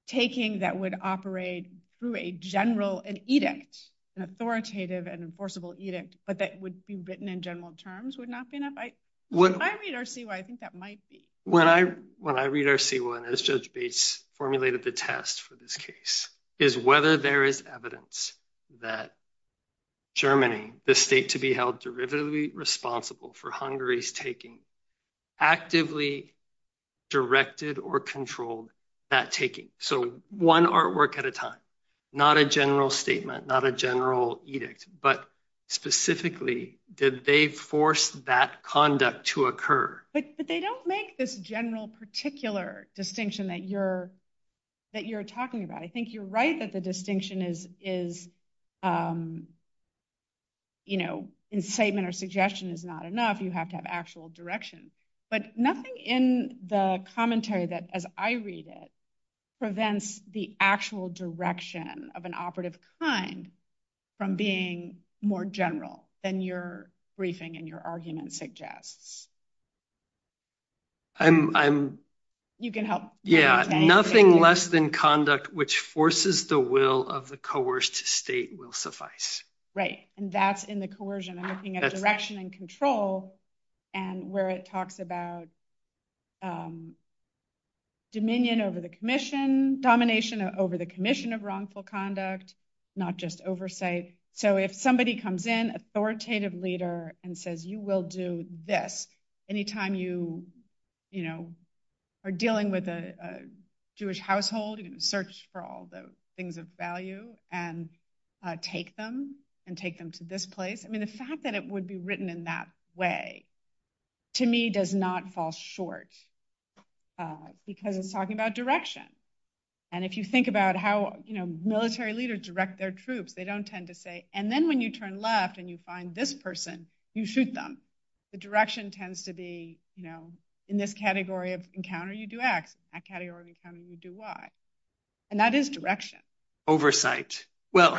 taking that would operate through a general, an edict, an authoritative and enforceable edict, but that would be written in general terms would not be enough? When I read our CWO, I think that might be. When I read our CWO, and as Judge Bates formulated the test for this case, is whether there is evidence that Germany, the state to be held derivatively responsible for Hungary's taking, actively directed or controlled that taking. So one artwork at a time, not a general statement, not a general edict, but specifically, did they force that conduct to occur? But they don't make this general particular distinction that you're talking about. I think you're right that the distinction is incitement or suggestion is not enough. You have to have actual direction, but nothing in the commentary that, as I read it, prevents the actual direction of an operative crime from being more general than your briefing and your argument suggests. And you can help. Yeah. Nothing less than conduct which forces the will of the coerced state will suffice. Right. And that's in the coercion. I'm looking at direction and control and where it talks about dominion over the commission, domination over the commission of wrongful conduct, not just oversight. So if somebody comes in, authoritative leader, and says, you will do this any time you are dealing with a Jewish household and search for all the things of value and take them and take them to this place. I mean, the fact that it would be written in that way, to me, does not fall short because I'm talking about direction. And if you think about how military leaders direct their troops, they don't tend to say, and then when you turn left and you find this person, you shoot them. The direction tends to be, you know, in this category of encounter, you do X, that category of encounter, you do Y. And that is direction. Oversight. Well,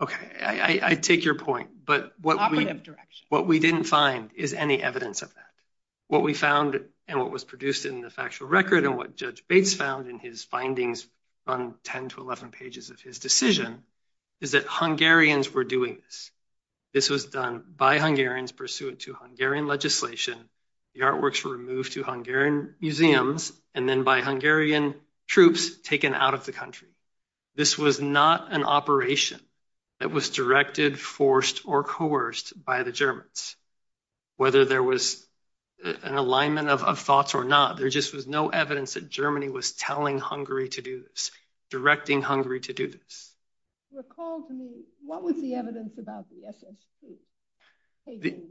okay. I take your point, but what we didn't find is any evidence of that. What we found and what was produced in the factual record and what Judge were doing, this was done by Hungarians pursuant to Hungarian legislation, the artworks were moved to Hungarian museums, and then by Hungarian troops taken out of the country. This was not an operation that was directed, forced, or coerced by the Germans. Whether there was an alignment of thoughts or not, there just was no evidence that Germany was telling Hungary to do this, directing Hungary to do this. Recall to me, what was the evidence about the SS troops?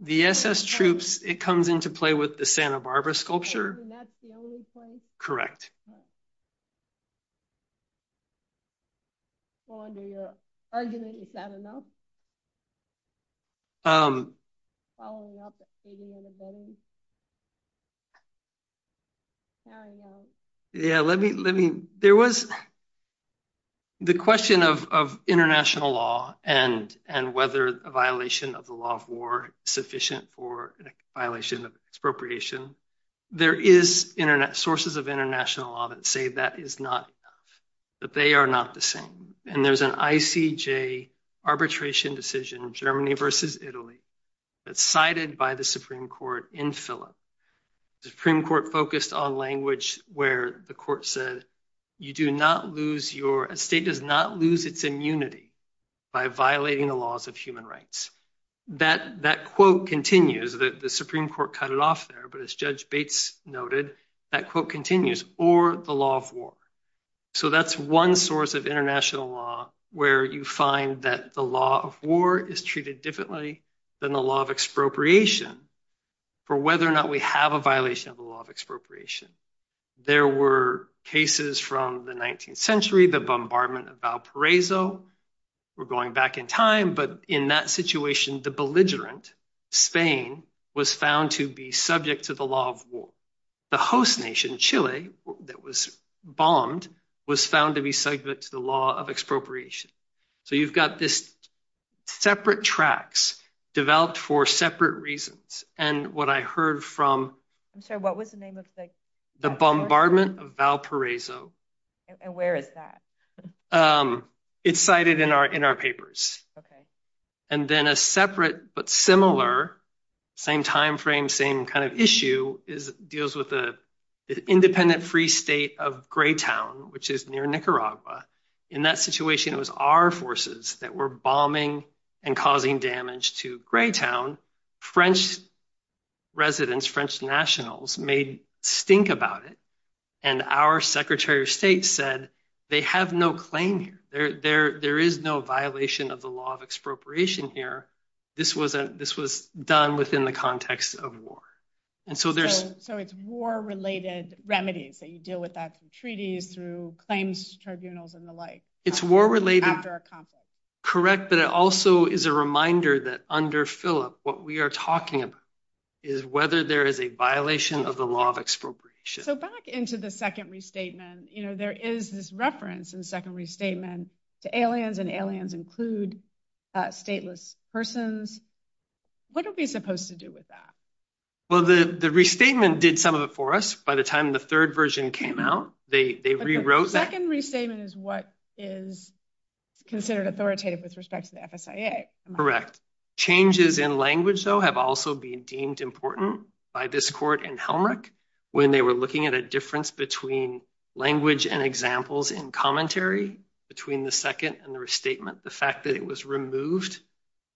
The SS troops, it comes into play with the Santa Barbara sculpture. And that's the only place? Correct. Go on to your argument. Is that enough? Following up, including anybody? Yeah, let me, there was the question of international law and whether a violation of the law of war is sufficient for a violation of expropriation. There is sources of international law that say that is not enough, that they are not the same. And there's an ICJ arbitration decision, Germany versus Italy, that's cited by the Supreme Court in Philip. The Supreme Court focused on language where the court said, a state does not lose its immunity by violating the laws of human rights. That quote continues, the Supreme Court cut it there, but as Judge Bates noted, that quote continues, or the law of war. So that's one source of international law where you find that the law of war is treated differently than the law of expropriation for whether or not we have a violation of the law of expropriation. There were cases from the 19th century, the bombardment of Valparaiso, we're going back in time, but in that situation, the belligerent, Spain, was found to be subject to the law of war. The host nation, Chile, that was bombed, was found to be subject to the law of expropriation. So you've got this separate tracks developed for separate reasons. And what I heard from- I'm sorry, what was the name of the- The bombardment of Valparaiso. And where is that? It's cited in our papers. And then a separate but similar, same time frame, same kind of issue, deals with the independent free state of Greytown, which is near Nicaragua. In that situation, it was our forces that were bombing and causing damage to Greytown. French residents, French nationals, made stink about it. And our Secretary of State said, they have no claim here. There is no violation of the law of expropriation here. This was done within the context of war. And so there's- So it's war-related remedies that you deal with that through treaties, through claims tribunals, and the like. It's war-related- After a conflict. Correct. But it also is a reminder that under Philip, what we are talking about is whether there is a violation of the law of expropriation. So back into the second restatement, there is this reference in the second restatement to aliens, and aliens include stateless persons. What are we supposed to do with that? Well, the restatement did some of it for us by the time the third version came out. They rewrote- The second restatement is what is considered authoritative with respect to the FSIA. Correct. Changes in language, though, have also been deemed important by this court in Helmreich when they were looking at a difference between language and examples in commentary between the second and the restatement. The fact that it was removed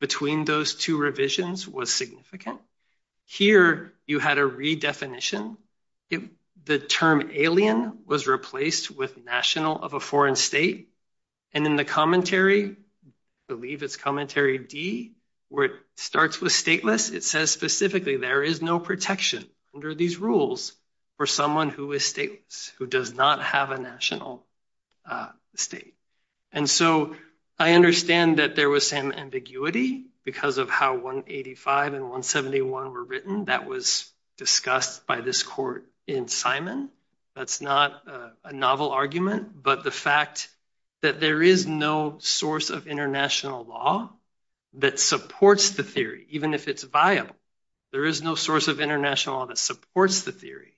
between those two revisions was significant. Here, you had a redefinition. The term alien was replaced with national of a foreign state. And in the commentary, I believe it's commentary D, where it starts with stateless, it says specifically there is no protection under these rules for someone who is stateless, who does not have a national state. And so I understand that there was some ambiguity because of how 185 and 171 were written. That was discussed by this court in Simon. That's not a novel argument, but the fact that there is no source of international law that supports the theory, even if it's viable, there is no source of international law that supports the theory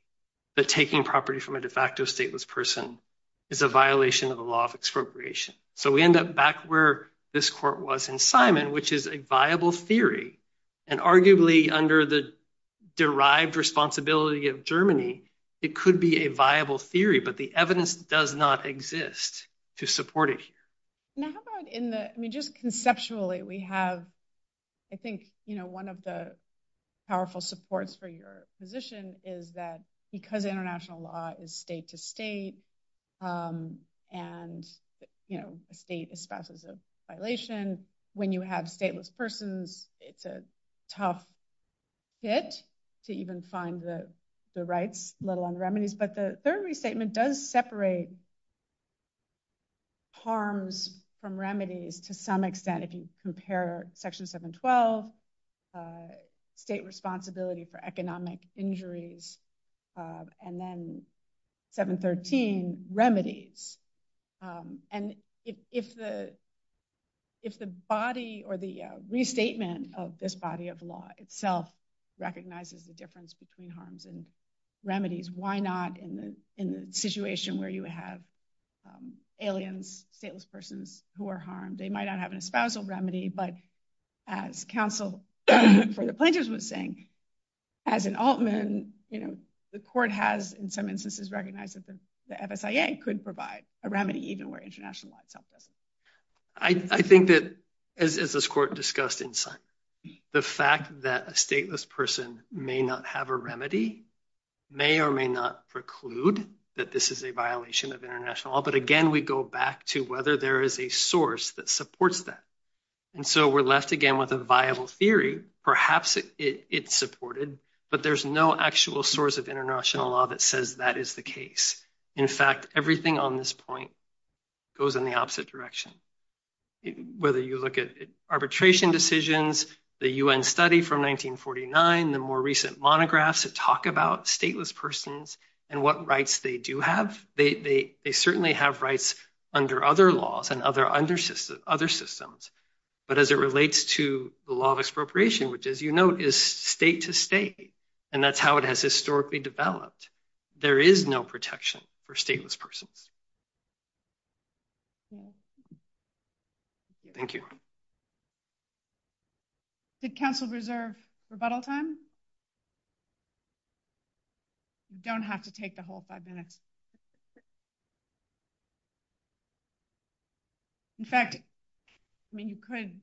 that taking property from a de facto stateless person is a violation of the law of expropriation. So we end up back where this court was in Simon, which is a viable theory. And arguably under the derived responsibility of Germany, it could be a viable theory, but the evidence does not exist to support it. Now, how about in the, I mean, just conceptually, we have, I think, you know, one of the powerful supports for your position is that because international law is state to state, and, you know, the state is subject to violation, when you have stateless persons, it's a tough hit to even find the rights, let alone remedies. But the third restatement does separate harms from remedies to some extent, if you compare section 712, state responsibility for economic injuries, and then 713, remedies. And if the, if the body or the restatement of this body of law itself recognizes the difference between harms and remedies, why not in the situation where you have aliens, stateless persons who are harmed, they might not have an espousal remedy, but as counsel for the plaintiffs would think, as an Altman, you know, the court has in some instances recognized that the FSIA could provide a remedy, even where international law is subject. I think that, as this court discussed inside, the fact that a stateless person may not have a remedy, may or may not preclude that this is a violation of international law, but again, we go back to whether there is a source that supports that. And so we're left again with a viable theory, perhaps it's supported, but there's no actual source of international law that says that is the case. In fact, everything on this point goes in the opposite direction. Whether you look at arbitration decisions, the UN study from 1949, the more recent monographs that talk about stateless persons and what rights they do have, they certainly have rights under other laws and other systems. But as it relates to the law of expropriation, which as you know, is state to state, and that's how it has historically developed, there is no protection for stateless persons. Thank you. Did counsel reserve rebuttal time? You don't have to take the whole five minutes. In fact, I mean, you could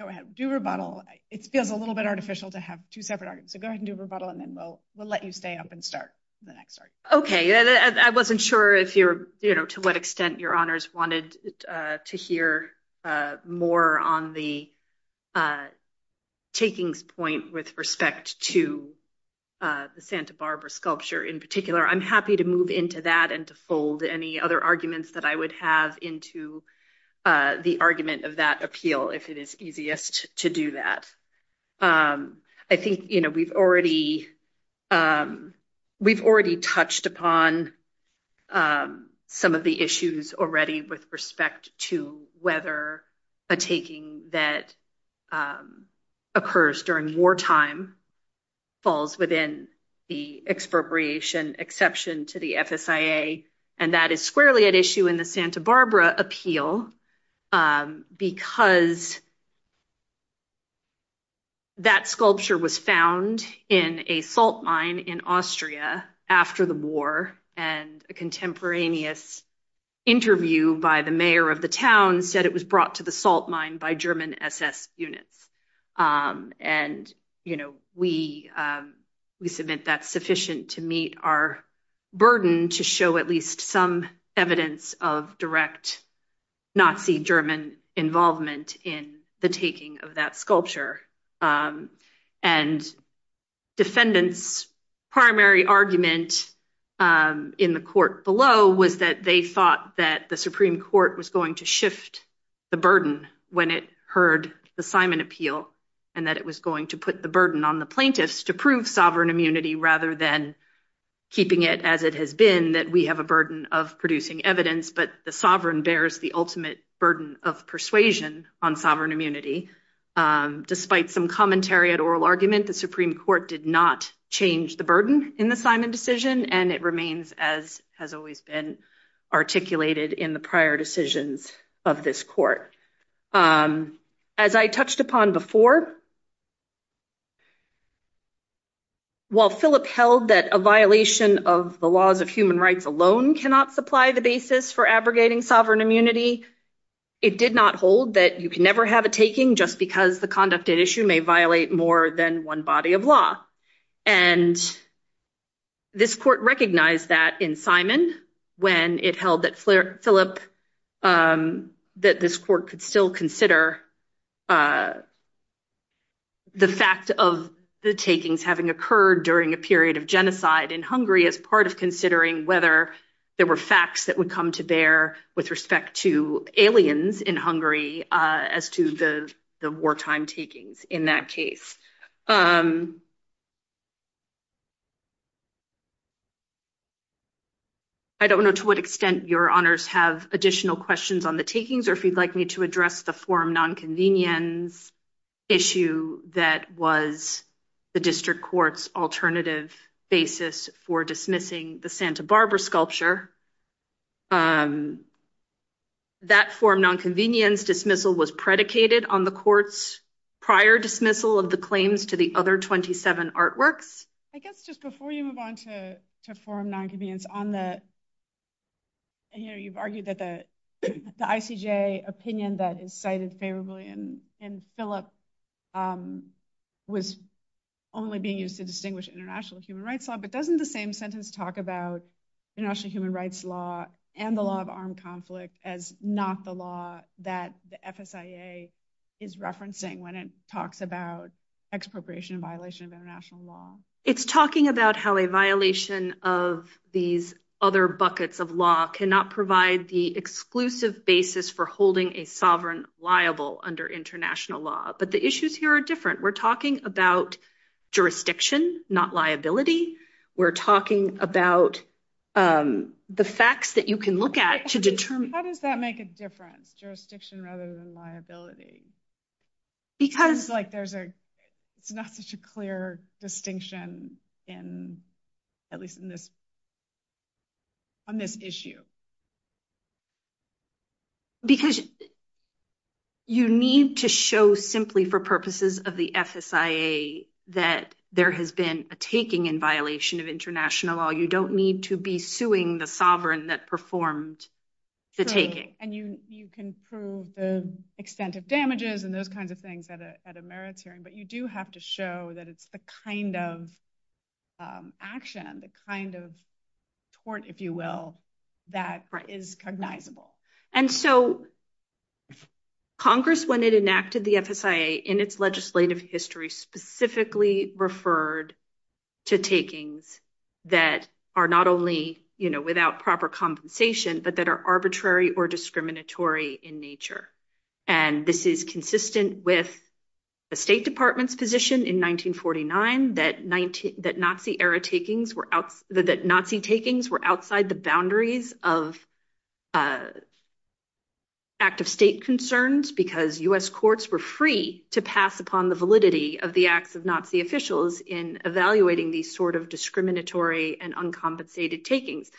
go ahead and do rebuttal. It feels a little bit artificial to have two separate arguments, so go ahead and do rebuttal and then we'll let you stay up and start the next part. Okay. I wasn't sure if you're, to what extent your honors wanted to hear more on the takings point with respect to the Santa Barbara sculpture in particular. I'm happy to move into that and to fold any other arguments that I would have into the argument of that appeal, if it is easiest to do that. I think we've already touched upon some of the issues already with respect to whether a taking that occurs during wartime falls within the expropriation exception to the FSIA, and that is squarely at issue in the Santa Barbara appeal, because that sculpture was found in a salt mine in Austria after the war, and a contemporaneous interview by the mayor of the town said it was brought to the salt mine by German SS units. And, you know, we submit that sufficient to meet our burden to show at least some evidence of direct Nazi German involvement in the taking of that sculpture. And defendant's primary argument in the court below was that they thought that the Supreme Court was going to shift the burden when it heard the Simon appeal, and that it was going to put the burden on the plaintiffs to prove sovereign immunity rather than keeping it as it has been that we have a burden of producing evidence, but the sovereign bears the ultimate burden of persuasion on sovereign immunity. Despite some commentary at oral argument, the Supreme Court did not change the burden in the Simon decision, and it remains as has always been articulated in prior decisions of this court. As I touched upon before, while Philip held that a violation of the laws of human rights alone cannot supply the basis for abrogating sovereign immunity, it did not hold that you can never have a taking just because the conducted issue may violate more than one body of law. And this court recognized that in Simon when it held that Philip, that this court could still consider the fact of the takings having occurred during a period of genocide in Hungary as part of considering whether there were facts that would come to bear with respect to aliens in Hungary as to the wartime takings in that case. I don't know to what extent your honors have additional questions on the takings or if you'd like me to address the forum nonconvenience issue that was the district court's alternative basis for dismissing the Santa Barbara sculpture. That forum nonconvenience dismissal was predicated on the court's prior dismissal of the claims to the other 27 artworks. I guess just before you move on to forum nonconvenience, you've argued that the ICJ opinion that is cited favorably in Philip was only being used to distinguish international human rights law, but doesn't the same sentence talk about international human rights law and the law of armed conflict as not the law that the FSIA is referencing when it talks about expropriation violation of international law? It's talking about how a violation of these other buckets of law cannot provide the exclusive basis for holding a sovereign liable under international law, but the issues here are different. We're talking about jurisdiction, not liability. We're talking about the facts that you can look at to determine... How does that make a difference, jurisdiction rather than liability? It's not such a clear distinction, at least on this issue. Because you need to show simply for purposes of the FSIA that there has been a taking in violation of international law. You don't need to be suing the sovereign that performed the taking. You can prove the extent of damages and those kinds of things at a merits hearing, but you do have to show that it's a kind of action, the kind of tort, if you will, that is cognizable. Congress, when it enacted the FSIA in its legislative history, specifically referred to takings that are not only without proper compensation, but that are arbitrary or discriminatory in nature. This is consistent with the State Department's position in 1949 that Nazi takings were outside the boundaries of active state concerns because U.S. courts were free to pass upon the validity of the Nazi officials in evaluating these sort of discriminatory and uncompensated takings.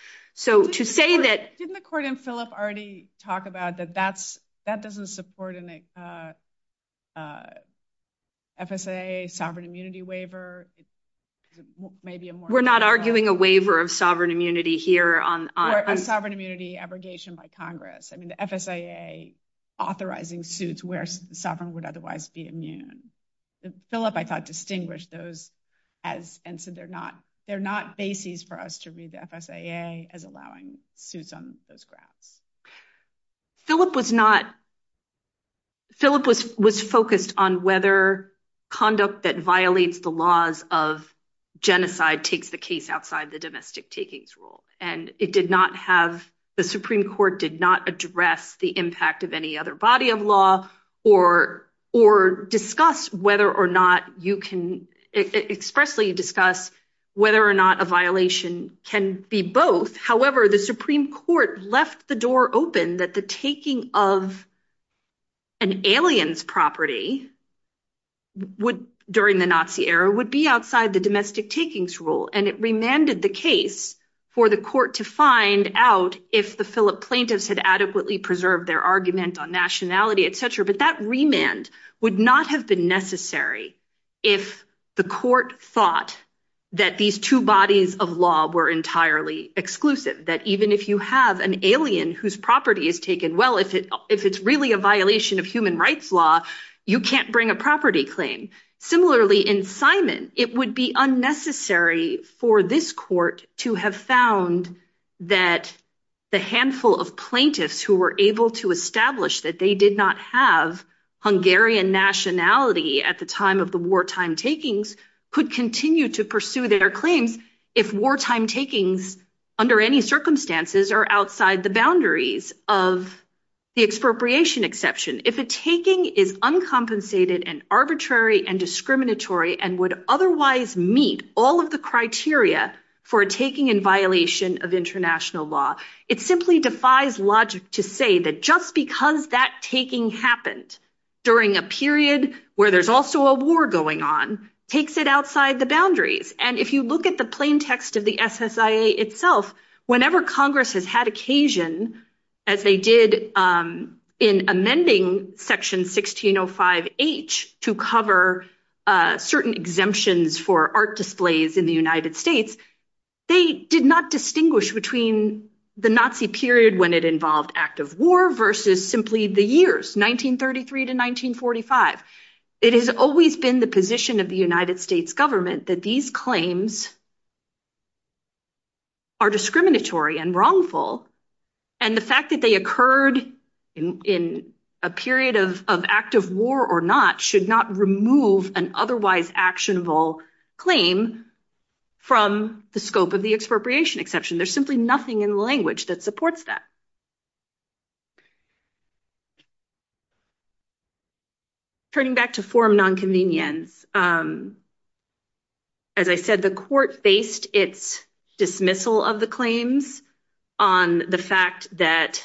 Didn't the court in Philip already talk about that that doesn't support an FSIA sovereign immunity waiver? We're not arguing a waiver of sovereign immunity here. Sovereign immunity abrogation by Congress. I mean, the FSIA authorizing suits where sovereign would otherwise be immune. Philip, I thought, distinguished those as, and so they're not basis for us to read the FSIA as allowing suits on this ground. Philip was not, Philip was focused on whether conduct that violates the laws of genocide takes the case outside the domestic takings rule. And it did not have, the Supreme Court did not address the impact of any other body of law or discuss whether or not you can expressly discuss whether or not a violation can be both. However, the Supreme Court left the door open that the taking of an alien's property during the Nazi era would be outside the domestic takings rule. And it remanded the case for the court to find out if the Philip plaintiffs had adequately preserved their argument on nationality, et cetera. But that remand would not have been necessary if the court thought that these two bodies of law were entirely exclusive. That even if you have an alien whose property is taken, well, if it's really a violation of human rights law, you can't bring a property claim. Similarly, in Simon, it would be unnecessary for this court to have found that the handful of plaintiffs who were able to establish that they did not have Hungarian nationality at the time of the wartime takings could continue to pursue their claims if wartime takings under any circumstances are outside the boundaries of the expropriation exception. If a taking is uncompensated and arbitrary and discriminatory and would otherwise meet all of the criteria for taking in violation of international law, it simply defies logic to say that just because that taking happened during a period where there's also a war going on, takes it outside the boundaries. And if you look at the plain text of the SSIA itself, whenever Congress has had occasion, as they did in amending section 1605H to cover certain exemptions for art displays in the United States, they did not distinguish between the Nazi period when it involved active war versus simply the years 1933 to 1945. It has always been the position of the United States government that these claims are discriminatory and wrongful. And the fact that they occurred in a period of active war or not, should not remove an otherwise actionable claim from the scope of the expropriation exception. There's simply nothing in the language that supports that. Turning back to form nonconvenience, as I said, the court based its dismissal of the claims on the fact that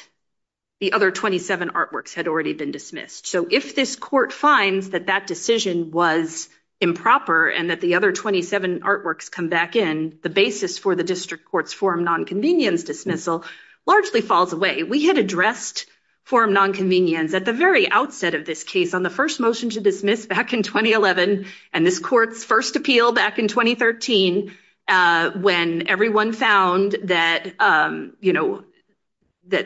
the other 27 artworks had already been dismissed. So if this court finds that that decision was improper and that the other 27 artworks come back in, the basis for district court's form nonconvenience dismissal largely falls away. We had addressed form nonconvenience at the very outset of this case on the first motion to dismiss back in 2011, and this court's first appeal back in 2013, when everyone found that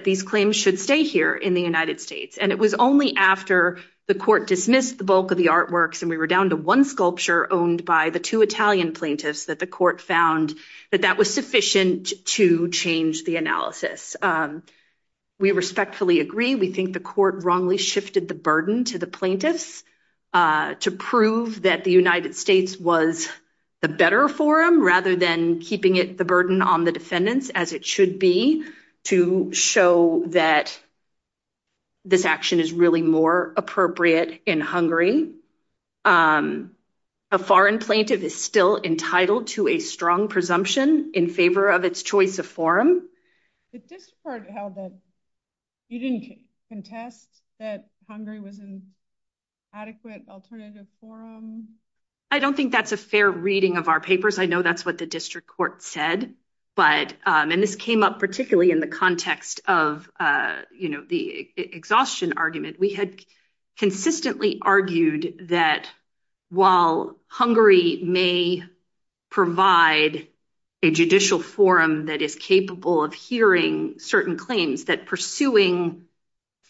these claims should stay here in the United States. And it was only after the court dismissed the bulk of the artworks, and we were down to one sculpture owned by the two Italian plaintiffs, that the court found that that was sufficient to change the analysis. We respectfully agree. We think the court wrongly shifted the burden to the plaintiffs to prove that the United States was the better forum, rather than keeping it the burden on the defendants as it should be to show that this action is really more appropriate in Hungary. A foreign plaintiff is still entitled to a strong presumption in favor of its choice of forum. But this part held that you didn't contest that Hungary was an adequate alternative forum? I don't think that's a fair reading of our papers. I know that's what the district court said, but, and this came up particularly in the context of, you know, the exhaustion argument. We had consistently argued that while Hungary may provide a judicial forum that is capable of hearing certain claims, that pursuing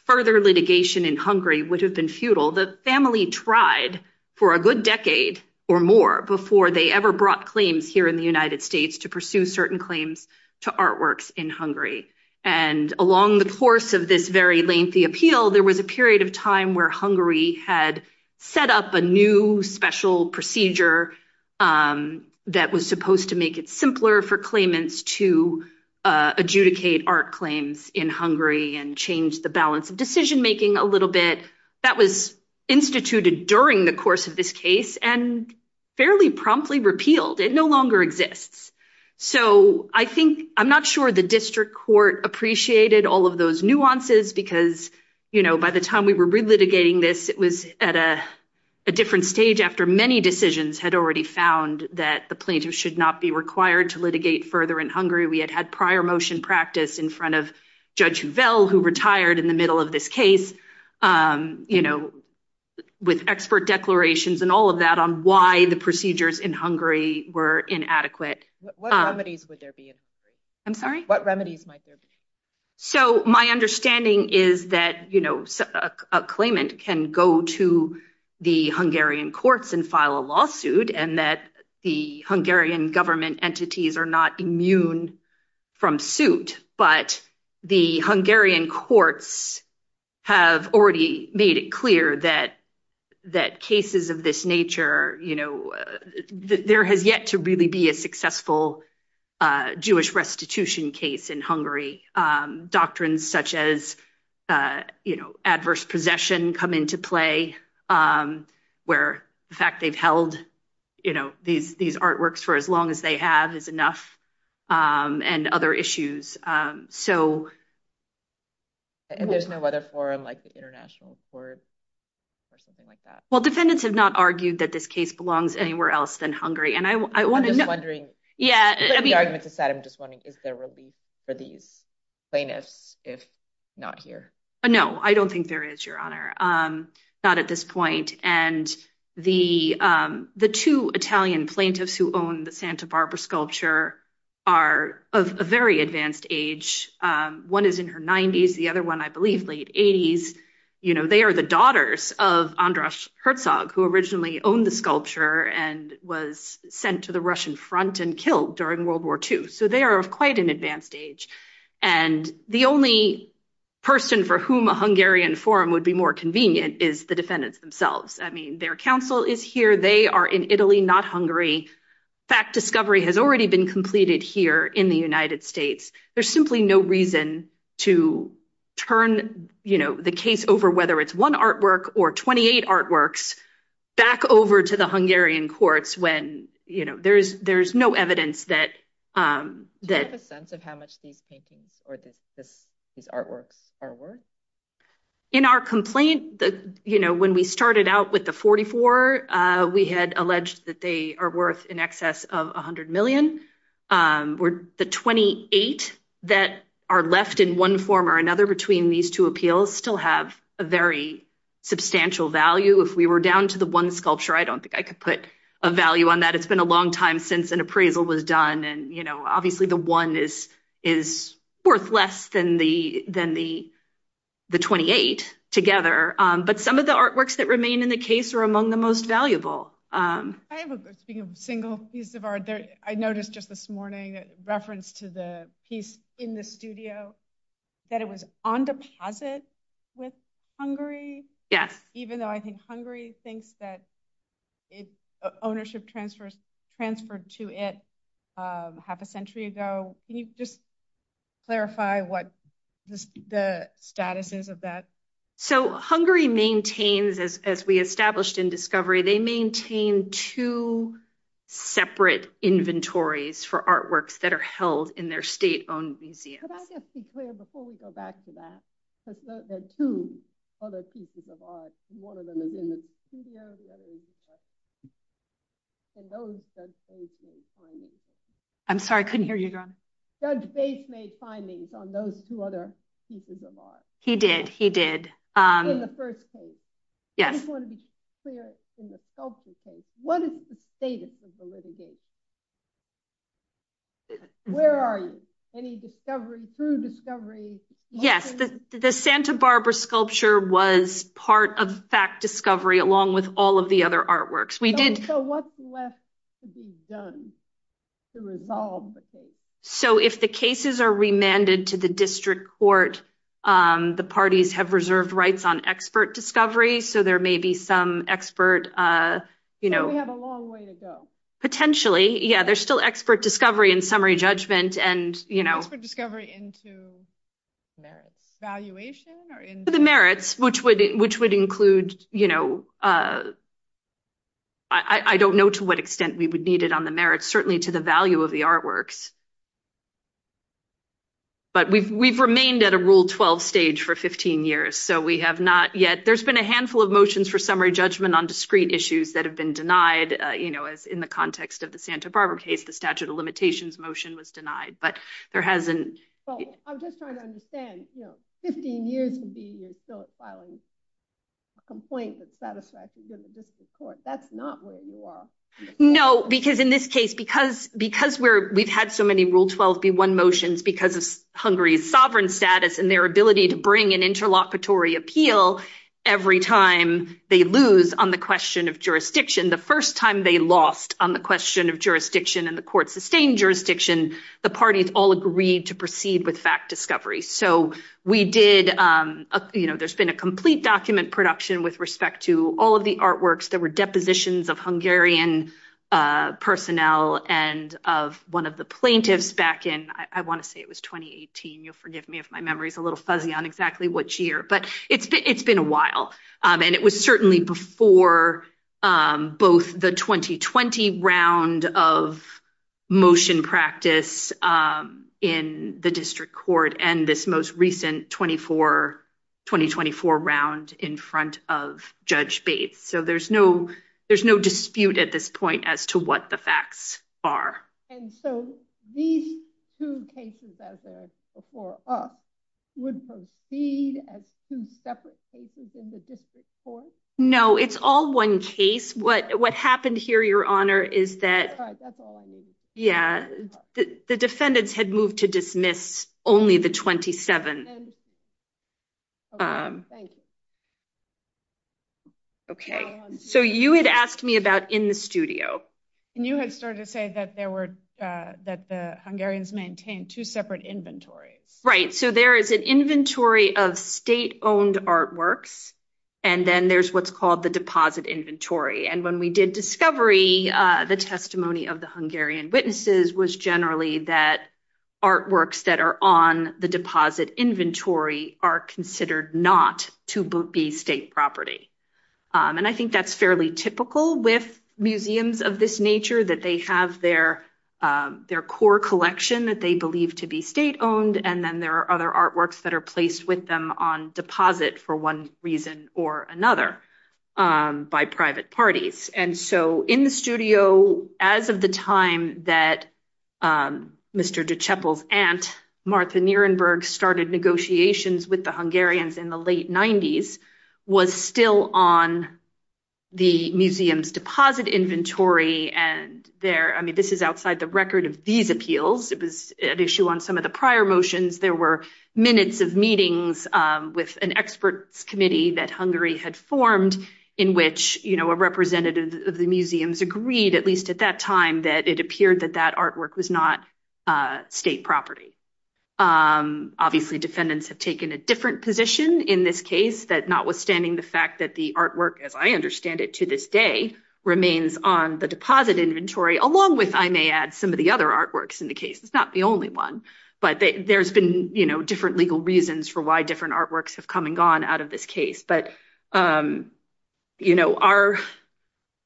further litigation in Hungary would have been futile. The family tried for a good decade or more before they ever brought claims here in the United States to pursue certain claims to artworks in Hungary. And along the course of this very lengthy appeal, there was a period of time where Hungary had set up a new special procedure that was supposed to make it simpler for claimants to adjudicate art claims in Hungary and change the balance of decision-making a little bit. That was instituted during the course of this case and fairly promptly repealed. It no longer exists. So I think, I'm not sure the district court appreciated all of those nuances because, you know, by the time we were re-litigating this, it was at a different stage after many decisions had already found that the plaintiff should not be required to litigate further in Hungary. We had had prior motion practice in front of Judge Huvel, who retired in the middle of this case, you know, with expert declarations and all of that on why the procedures in Hungary were inadequate. What remedies would there be? I'm sorry? What remedies might there be? So my understanding is that, you know, a claimant can go to the Hungarian courts and file a lawsuit and that the Hungarian government entities are not immune from suit, but the Hungarian courts have already made it clear that cases of this nature, you know, there has yet to really be a successful Jewish restitution case in Hungary. Doctrines such as, you know, adverse possession come into play where the fact they've held, you know, these artworks for as long as they have is enough and other issues. So... And there's no letter form like the international court or something like that? Well, defendants have not argued that this case belongs anywhere else than Hungary. And I want to know... I'm just wondering, I'm just wondering if there will be for these plaintiffs if not here? No, I don't think there is, Your Honor. Not at this point. And the two Italian plaintiffs who own the Santa Barbara sculpture are of a very advanced age. One is in her 90s, the other one, I believe, late 80s. You know, they are the daughters of Andras Herzog, who originally owned the sculpture and was sent to the Russian front and killed during World War II. So they are of quite an advanced age. And the only person for whom a Hungarian forum would be more convenient is the defendants themselves. I mean, their counsel is here. They are in Italy, not Hungary. Fact discovery has already been completed here in the United States. There's simply no reason to turn, you know, the case over whether it's one artwork or 28 artworks back over to the Hungarian courts when, you know, there's no evidence that... Do you have a sense of how much these paintings or these artworks are worth? In our complaint, you know, when we started out with the 44, we had alleged that they are worth in excess of $100 million. The 28 that are left in one form or another between these two appeals still have a very substantial value. If we were down to the one sculpture, I don't think I could put a value on that. It's been a long time since an appraisal was done. And, you know, obviously, the one is worth less than the 28 together. But some of the artworks that remain in the case are among the most valuable. I have a single piece of art that I noticed just this morning, a reference to the piece in the studio, that it was on deposit with Hungary. Yes. Even though I think Hungary thinks that its ownership transfers transferred to it half a century ago. Can you just clarify what the status is of that? So Hungary maintains, as we established in Discovery, they maintain two separate inventories for artworks that are held in their state-owned museum. Could I just be clear before we go back to that? Because there are two other pieces of art. One of them is in the studio, the other is in the museum. And those judge base made findings. I'm sorry, I couldn't hear you. Judge base made findings on those two other pieces of art. He did. He did. In the first case. Yes. I just want to be clear in the sculpture case, what is the status of the litigation? Where are you? Any discovery through Discovery? Yes, the Santa Barbara sculpture was part of Fact Discovery along with all of the other artworks. So what's left to be done to resolve the case? So if the cases are remanded to the district court, the parties have reserved rights on expert discovery. So there may be some expert, you know, potentially, yeah, there's still expert discovery and summary judgment and, you know, discovery into valuation or into the merits, which would include, you know, I don't know to what extent we would need it on the merits, certainly to the value of the artworks. But we've remained at a rule 12 stage for 15 years. So we have not yet, there's been a handful of motions for summary judgment on discrete issues that have been denied, you know, in the context of the Santa Barbara case, the statute of limitations motion was denied, but there hasn't. I'm just trying to understand, you know, 15 years so it's filing a complaint that satisfies the district court. That's not where you are. No, because in this case, because we've had so many Rule 12b1 motions because of Hungary's sovereign status and their ability to bring an interlocutory appeal every time they lose on the question of jurisdiction, the first time they lost on the question of jurisdiction and the court sustained jurisdiction, the parties all agreed to proceed with Fact Discovery. So we did, you know, there's been a complete document production with respect to all of the artworks. There were depositions of Hungarian personnel and of one of the plaintiffs back in, I want to say it was 2018. You'll forgive me if my memory's a little fuzzy on exactly which year, but it's been a while. And it was certainly before both the 2020 round of motion practice in the district court and this most recent 2024 round in front of Judge Bates. So there's no dispute at this point as to what the facts are. And so these two cases before us would proceed as two separate cases in the district court? No, it's all one case. What happened here, Your Honor, is that, yeah, the defendants had moved to dismiss only the 27th. Okay. So you had asked me about in the studio. And you had started to say that there were, that the Hungarians maintained two separate inventories. Right. So there is an inventory of state owned artworks. And then there's what's called the deposit inventory. And when we did discovery, the testimony of the Hungarian witnesses was generally that artworks that are on the deposit inventory are considered not to be state property. And I think that's fairly typical with museums of this nature, that they have their core collection that they believe to be state owned. And then there are other artworks that are placed with them on deposit for one reason or another, by private parties. And so in the studio, as of the time that Mr. de Cheppel's aunt, Martha Nirenberg started negotiations with the Hungarians in the late 90s, was still on the museum's deposit inventory. And there, I mean, this is outside the record of these appeals, it was an issue on some of the prior motions, there were minutes of meetings with an expert committee that Hungary had formed, in which, you know, a representative of the museums agreed, at least at that time, that it appeared that that artwork was not state property. Obviously, defendants have taken a different position in this case, that notwithstanding the fact that the artwork, as I understand it to this day, remains on the deposit inventory, along with, I may add, some of the other artworks in the case. It's not the only one. But there's been, you know, legal reasons for why different artworks have come and gone out of this case. But, you know, our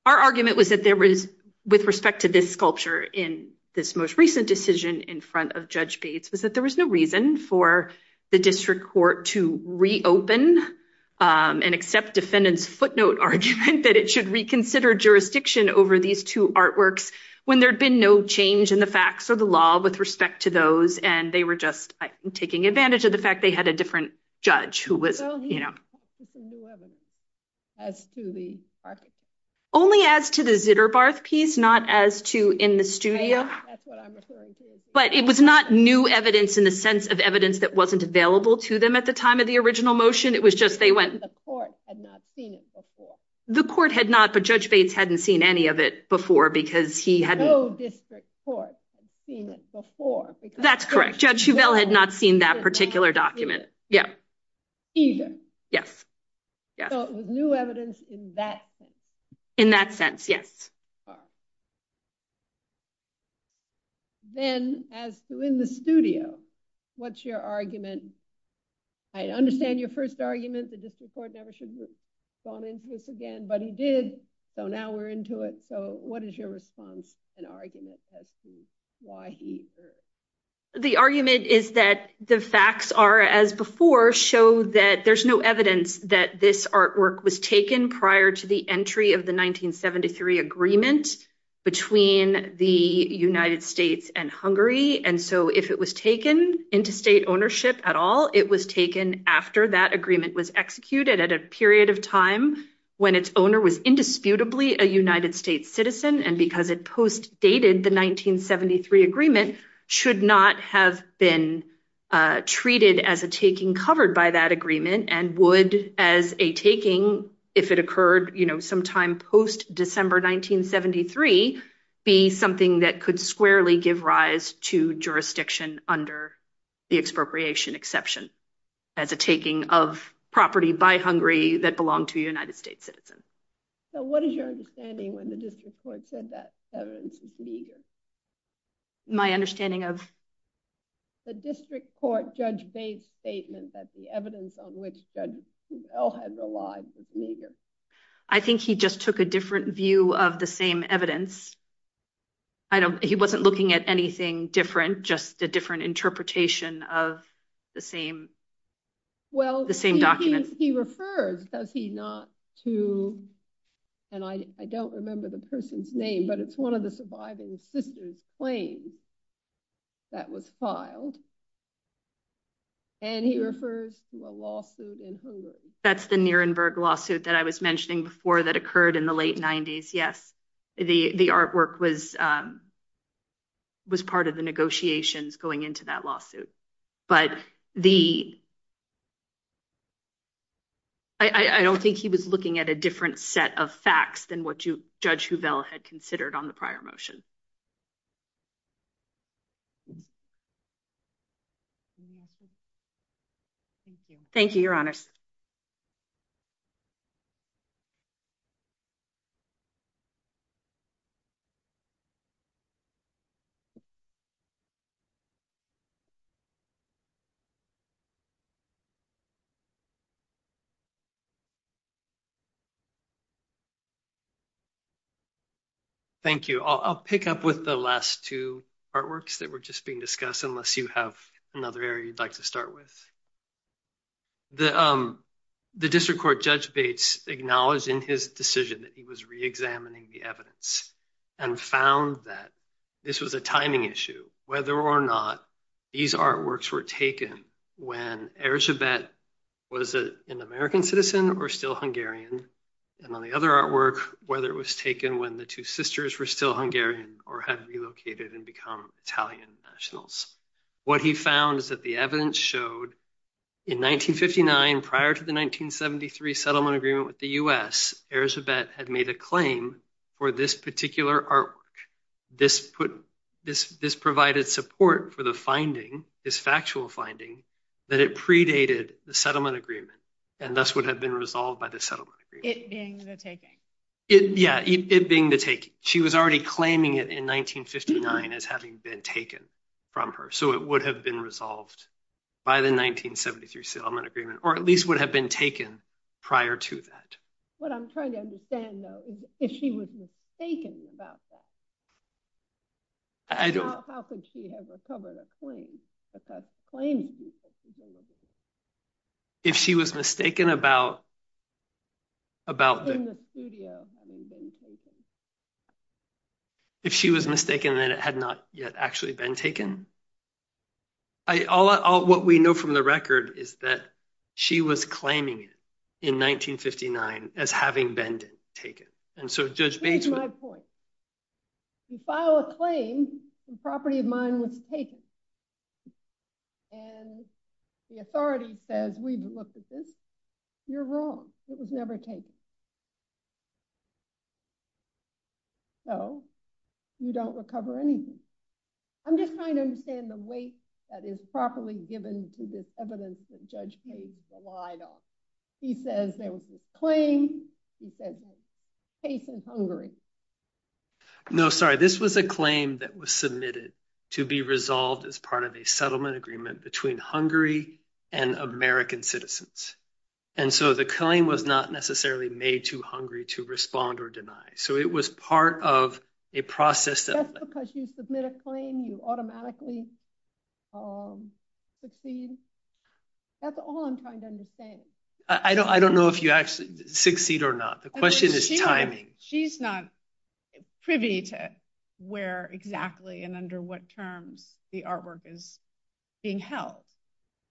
argument was that there was, with respect to this sculpture in this most recent decision in front of Judge Bates, was that there was no reason for the district court to reopen and accept defendants' footnote argument that it should reconsider jurisdiction over these two artworks, when there'd been no change in the facts of the law with respect to those, and they were taking advantage of the fact they had a different judge. Only as to the Zitterbarth piece, not as to in the studio. But it was not new evidence in the sense of evidence that wasn't available to them at the time of the original motion. It was just the court had not seen it before. The court had not, but Judge Bates hadn't seen any of it before because he had... No district court had seen it before. That's correct. Judge Chevelle had not seen that particular document. Yes. So it was new evidence in that sense. In that sense, yes. Then, as to in the studio, what's your argument? I understand your first argument, the district court never should have gone into this again, but he did, so now we're into it. So what is your response and argument as to why he... The argument is that the facts are, as before, show that there's no evidence that this artwork was taken prior to the entry of the 1973 agreement between the United States and Hungary. And so if it was taken into state ownership at all, it was taken after that agreement was executed at a period of time when its owner was indisputably a United States citizen. And because it post-dated the 1973 agreement, should not have been treated as a taking covered by that agreement and would as a taking, if it occurred sometime post-December 1973, be something that could squarely give rise to jurisdiction under the expropriation exception, as a taking of property by Hungary that belonged to a United States citizen. So what is your understanding when the district court said that Chevelle's is legal? My understanding of? The district court judge base statement that the evidence on which Judge Chevelle has the law is legal. I think he just took a different view of the same evidence. He wasn't looking at anything different, just a different interpretation of the same document. Well, he referred, does he not, to, and I don't remember the person's name, but it's one of the surviving sister's claims that was filed. And he refers to a lawsuit in Hungary. That's the Nuremberg lawsuit that I was mentioning before that occurred in the late 90s. Yes, the artwork was part of the negotiations going into that lawsuit. But I don't think he was looking at a different set of facts than what Judge Chevelle had considered on the prior motion. Thank you, Your Honor. Thank you. I'll pick up with the last two artworks that were just being discussed, unless you have another area you'd like to start with. The district court judge Bates acknowledged in his decision that he was reexamining the evidence and found that this was a timing issue, whether or not these artworks were taken when Erzsébet was an American citizen or still Hungarian, and on the other artwork, whether it was taken when the two sisters were still Hungarian or had relocated and become Italian nationals. What he found is that the evidence showed in 1959, prior to the 1973 settlement agreement with the U.S., Erzsébet had made a claim for this particular artwork. This provided support for the finding, this factual finding, that it predated the settlement agreement and thus would have been resolved by the settlement agreement. It being the taking. Yeah, it being the taking. She was already claiming it in 1959 as having been taken from her, so it would have been resolved by the 1973 settlement agreement, or at least would have been taken prior to that. What I'm trying to understand, though, is if she was mistaken about that, how could she have recovered a claim? If she was mistaken about... If she was mistaken that it had not yet actually been taken? What we know from the record is that she was claiming it in 1959 as having been taken. And so, Judge Bates... You file a claim, the property of mine was taken, and the authority says, we've looked at this, you're wrong. It was never taken. So, you don't recover anything. I'm just trying to understand the weight that is properly given to this evidence that Judge Bates relied on. He says there was a claim, he says there was a case in Hungary. No, sorry. This was a claim that was submitted to be resolved as part of a settlement agreement between Hungary and American citizens. And so, the claim was not necessarily made to Hungary to respond or deny. So, it was part of a process... That's because you submit a claim, you automatically proceed. That's all I'm trying to say. I don't know if you actually succeed or not. The question is timing. She's not privy to where exactly and under what terms the artwork is being held.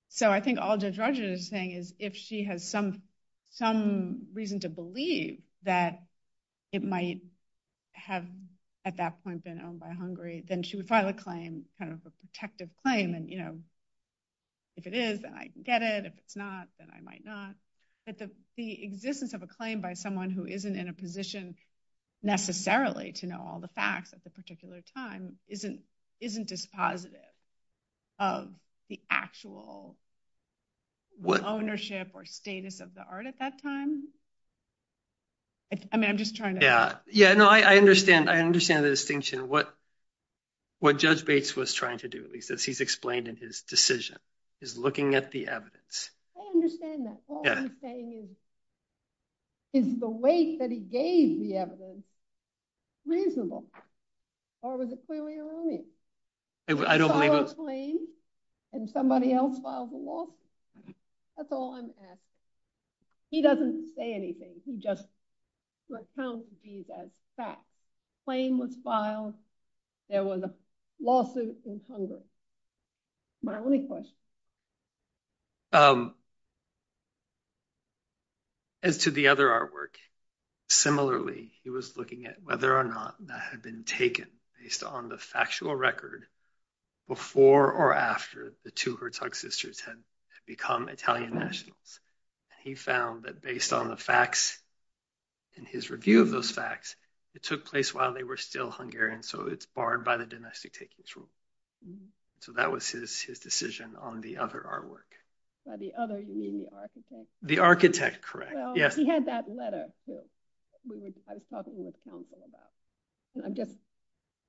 So, I think all Judge Rogers is saying is if she has some reason to believe that it might have at that point been owned by Hungary, then she would file a claim, kind of a protective claim, and if it is, then I can get it. If it's not, then I might not. But the existence of a claim by someone who isn't in a position necessarily to know all the facts at the particular time isn't dispositive of the actual ownership or status of the art at that time. I mean, I'm just trying to... Yeah. No, I understand the distinction. What Judge Bates was trying to do, at least, as he's explained in his decision, is looking at the evidence. I understand that. All I'm saying is, is the weight that he gave the evidence reasonable or was it clearly alluding? I don't believe... It's all a claim, and somebody else filed the lawsuit. That's all I'm asking. He doesn't say anything. He just let it be that fact. Claim was filed. There was a lawsuit in Hungary. My only question. As to the other artwork, similarly, he was looking at whether or not that had been taken based on the factual record before or after the two Herzog sisters had become Italian nationals. He found that based on the facts and his review of those facts, it took place while they were still Hungarian, so it's barred by the domestic takings rule. That was his decision on the other artwork. By the other, you mean the architect? The architect, correct. Yes. He had that letter that I was talking with counsel about, and I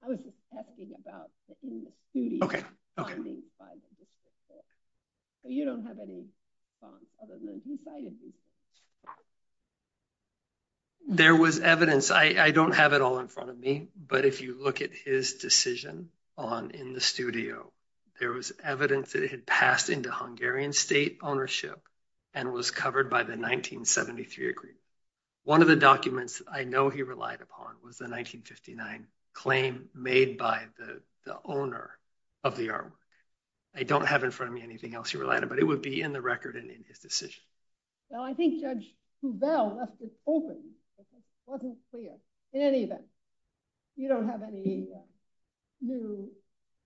was just asking about the painting. You don't have any evidence inside of you? There was evidence. I don't have it all in front of me, but if you look at his decision on in the studio, there was evidence that it had passed into Hungarian state ownership and was covered by the 1973 agreement. One of the documents I know he relied upon was the 1959 claim made by the owner of the artwork. I don't have in front of me anything else he relied on, but it would be in the record and in his decision. Well, I think Judge Hubell left it open. It wasn't clear. In any event, you don't have any new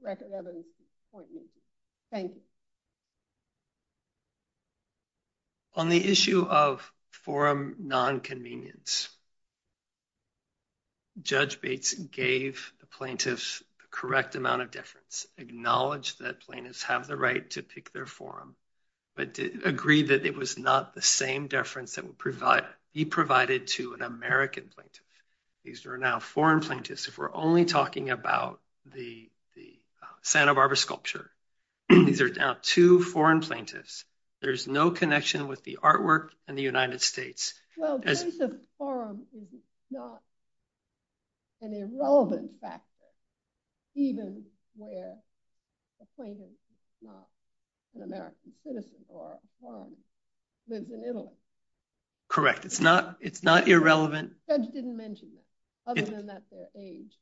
record evidence. Thank you. On the issue of forum non-convenience, Judge Bates gave the plaintiffs the correct amount of difference, acknowledged that plaintiffs have the right to pick their forum, but agreed that it was not the same difference that he provided to an American plaintiff. These are now foreign plaintiffs. If we're only talking about the Santa Barbara Sculpture, these are now two foreign plaintiffs. There's no connection with the artwork in the United States. Well, plaintiff's forum is not an irrelevant factor, even where a plaintiff is not an American citizen or a forum, lives in Italy. Correct. It's not irrelevant. Judge didn't mention that, other than that's their age.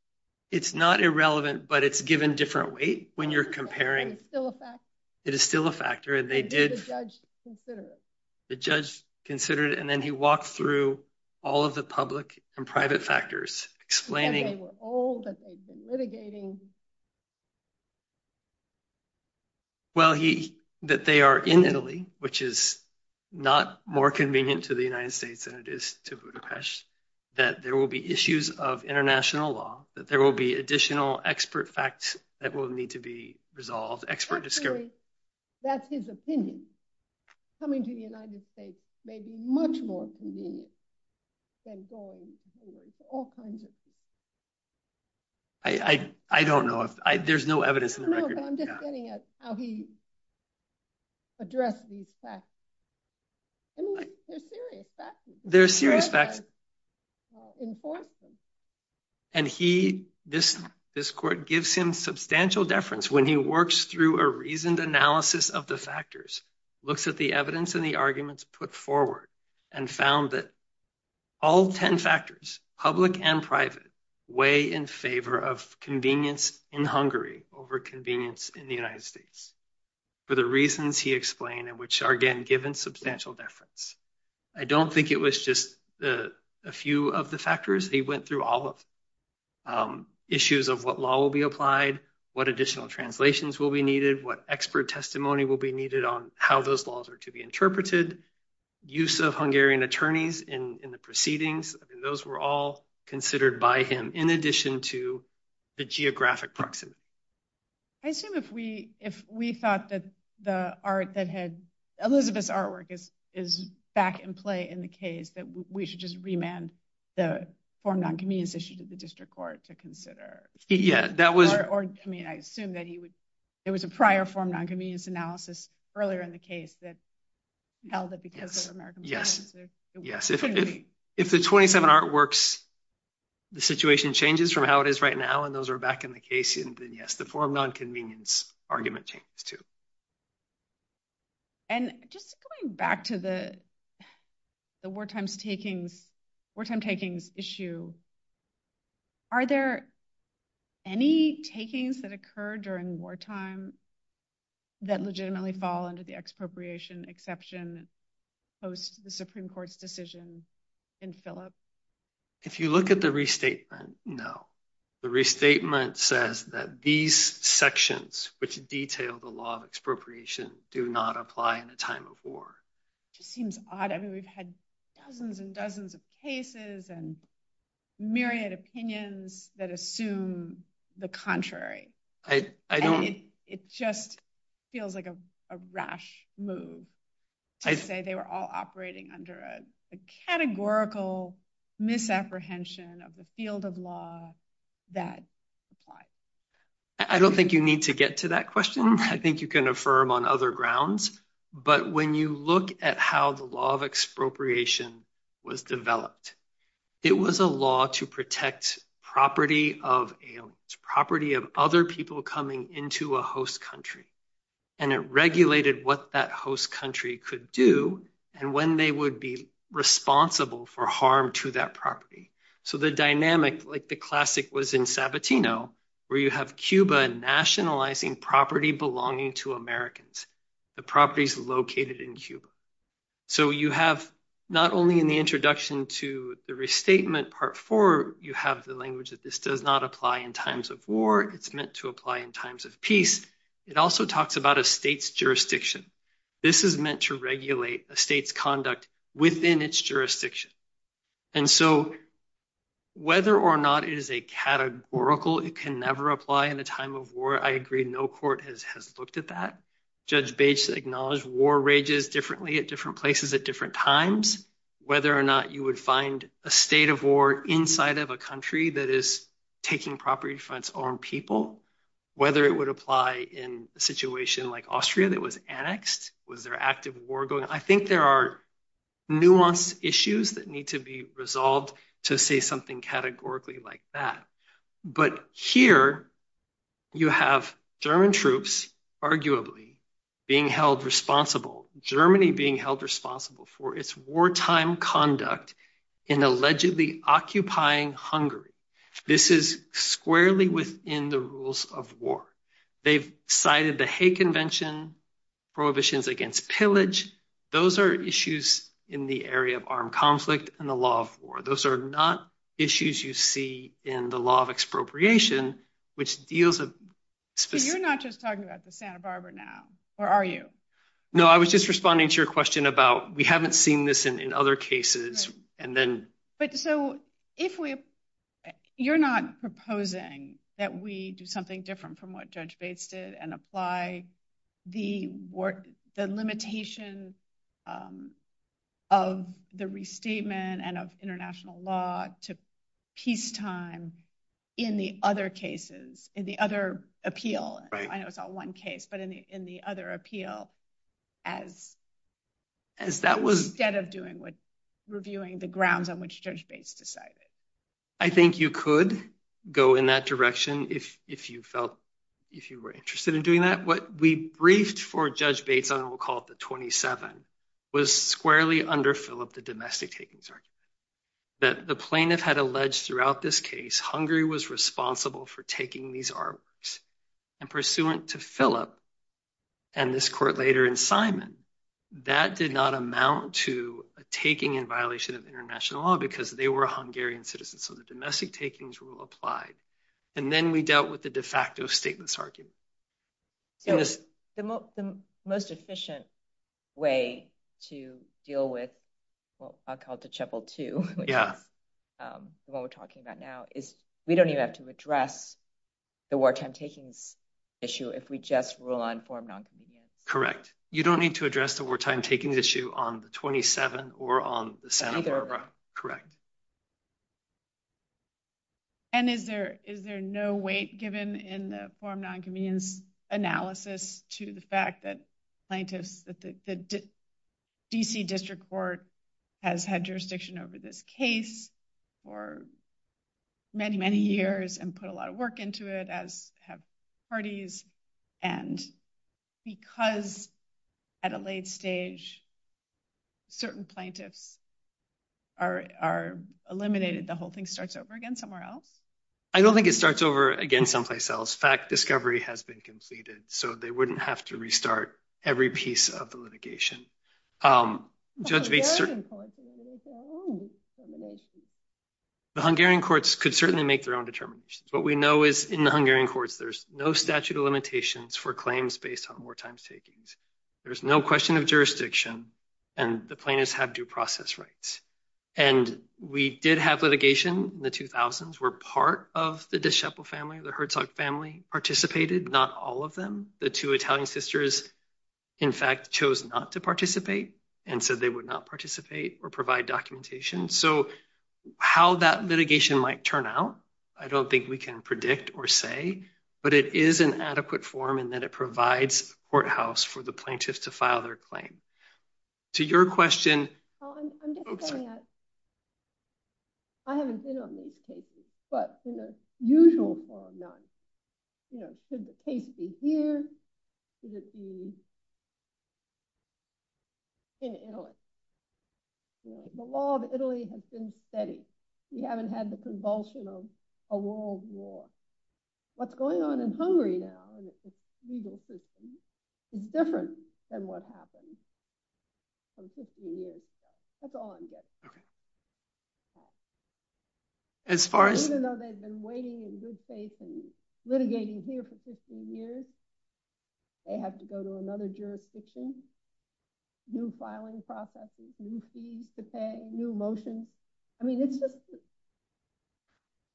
It's not irrelevant, but it's given different weight when you're comparing. It's still a factor. It is still a factor. The judge considered it, and then he walked through all of the public and private factors, explaining that they are in Italy, which is not more convenient to the United States than it is to Budapest, that there will be issues of international law, that there will be additional expert facts that will need to be resolved. That's his opinion. Coming to the United States may be much more convenient than going to the United States. All kinds of things. I don't know. There's no evidence. No, but I'm just getting at how he interprets that. This court gives him substantial deference when he works through a reasoned analysis of the factors, looks at the evidence and the arguments put forward, and found that all 10 factors, public and private, weigh in favor of convenience in Hungary over convenience in the United States, for the reasons he explained, and which are, again, given substantial deference. I don't think it was just a few of the factors. He went through all of them. Issues of what law will be applied, what additional translations will be needed, what expert testimony will be needed on how those laws are to be interpreted, use of Hungarian attorneys in the proceedings. Those were all considered by him, in addition to the geographic proxies. I assume if we thought that the art that had... Elizabeth's artwork is back in play in the case, that we should just remand the form of nonconvenience issue to the district court to consider. Yeah, that was... I mean, I assume that it was a prior form of nonconvenience analysis earlier in the case that held that because of American... Yes, yes. If the 27 artworks, the situation changes from how it is right now, and those are back in the case, then yes, the form of nonconvenience argument changes too. And just going back to the wartime takings issue, are there any takings that occur during wartime that legitimately fall under the expropriation exception post the Supreme Court's decision in Phillips? If you look at the restatement, no. The restatement says that these sections, which detail the law of expropriation, do not apply in the time of war. It seems odd. I mean, we've had dozens and dozens of cases and myriad opinions that assume the contrary. I don't mean... And it just feels like a rash move to say they were all operating under a categorical misapprehension of the field of law that applies. I don't think you need to get to that question. I think you can affirm on other grounds. But when you look at how the law expropriation was developed, it was a law to protect property of aliens, property of other people coming into a host country. And it regulated what that host country could do and when they would be responsible for harm to that property. So the dynamic, like the classic was in Sabatino, where you have Cuba nationalizing property belonging to Americans, the properties located in Cuba. So you have not only in the introduction to the restatement part four, you have the language that this does not apply in times of war. It's meant to apply in times of peace. It also talks about a state's jurisdiction. This is meant to regulate a state's conduct within its jurisdiction. And so whether or not it is a categorical, it can never apply in the time of war. I agree, no court has looked at that. Judge Bates acknowledged war rages differently at different places at different times. Whether or not you would find a state of war inside of a country that is taking property from its own people, whether it would apply in a situation like Austria that was annexed, was there active war going? I think there are nuanced issues that need to be resolved to say something categorically like that. But here you have German troops arguably being held responsible, Germany being held responsible for its wartime conduct in allegedly occupying Hungary. This is squarely within the rules of war. They've cited the Hay Conflict and the Law of War. Those are not issues you see in the law of expropriation, which deals with... So you're not just talking about the Santa Barbara now, or are you? No, I was just responding to your question about we haven't seen this in other cases and then... But so if you're not proposing that we do something different from what Judge Bates did and apply the limitations of the restatement and of international law to peacetime in the other cases, in the other appeal, I know it's on one case, but in the other appeal as that was instead of doing what reviewing the grounds on which Judge Bates decided. I think you could go in that direction if you were interested in doing that. What we briefed for Judge Bates on, we'll call it the 27, was squarely under Philip, the domestic takings. That the plaintiff had alleged throughout this case, Hungary was responsible for taking these artworks and pursuant to Philip and this court later in Simon, that did not amount to a taking in violation of international law because they were Hungarian citizens. So the domestic takings rule applied. And then we dealt with the de facto statements argument. The most efficient way to deal with, well, I'll call it the chapel two, which is what we're talking about now, is we don't even have to address the wartime taking issue if we just rule on form non-convenience. Correct. You don't need to address the wartime taking issue on the 27 or on the Santa Barbara. Correct. And is there no weight given in the form non-convenience analysis to the fact that DC District Court has had jurisdiction over this case for many, many years and put a lot of work into it, as have parties, and because at a late stage certain plaintiffs are eliminated, the whole thing starts over again somewhere else? I don't think it starts over again someplace else. Fact discovery has been conceded, so they wouldn't have to restart every piece of the litigation. The Hungarian courts could certainly make their own determinations. What we know is in the Hungarian courts, there's no statute of limitations for claims based on wartime takings. There's no question of jurisdiction, and the plaintiffs have due process rights. And we did have litigation in the 2000s where part of the Dischapel family, the Herzog family, participated, but not all of them. The two Italian sisters, in fact, chose not to participate. And so they would not participate or provide documentation. So how that litigation might turn out, I don't think we can predict or say, but it is an adequate form in that it provides courthouse for the plaintiffs to file their claim. To your question... I'm just saying that I haven't been on these cases, but in a usual form, not, you know, the case would be here, it would be in Italy. The law of Italy has been steady. We haven't had the convulsion of a world war. What's going on in Hungary now is different than what happened some 15 years ago. That's all I'm getting. Okay. As far as... Even though they've been waiting in good faith and litigating here for 15 years, they have to go to another jurisdiction, new filing processes, new fees to pay, new motions.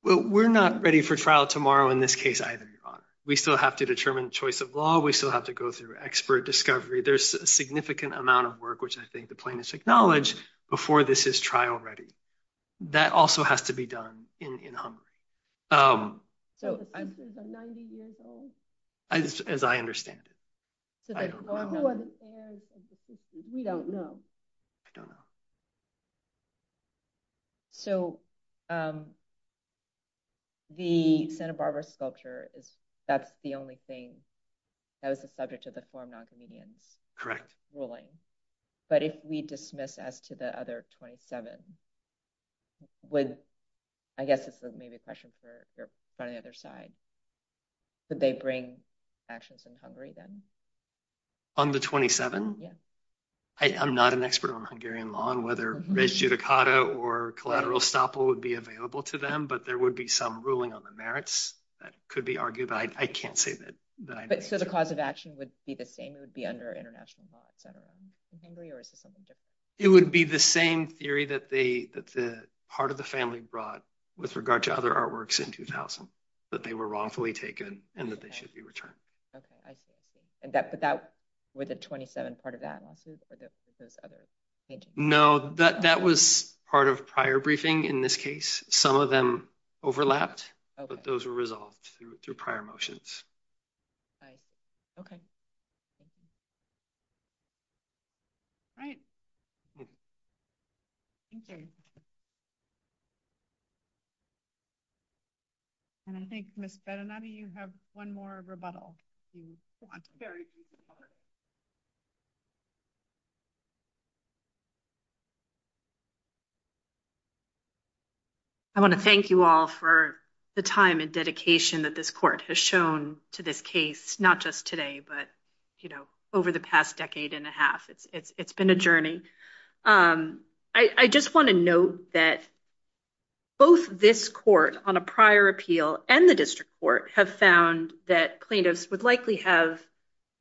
Well, we're not ready for trial tomorrow in this case either, Your Honor. We still have to determine choice of law. We still have to go through expert discovery. There's a significant amount of work, which I think the plaintiffs acknowledged before this is trial ready. That also has to be done in Hungary. As I understand it. We don't know. So the Santa Barbara sculpture, that's the only thing that was the subject of the form correct ruling. But if we dismiss as to the other 27, I guess it's maybe a question for the other side. Did they bring actions in Hungary then? On the 27? Yes. I'm not an expert on Hungarian law and whether res judicata or collateral estoppel would be available to them, but there would be some ruling on the merits that could be argued. I can't say that. So the cause of action would be the same, it would be under international law in Hungary or is it something different? It would be the same theory that the part of the family brought with regard to other artworks in 2000, that they were wrongfully taken and that they should be returned. But that was a 27 part of that. No, that was part of prior briefing in this case. Some of them overlapped, but those were resolved through prior motions. Okay. All right. Okay. And I think, Ms. Berenati, you have one more rebuttal. I want to thank you all for the time and dedication that this court has shown to this not just today, but over the past decade and a half. It's been a journey. I just want to note that both this court on a prior appeal and the district court have found that plaintiffs would likely have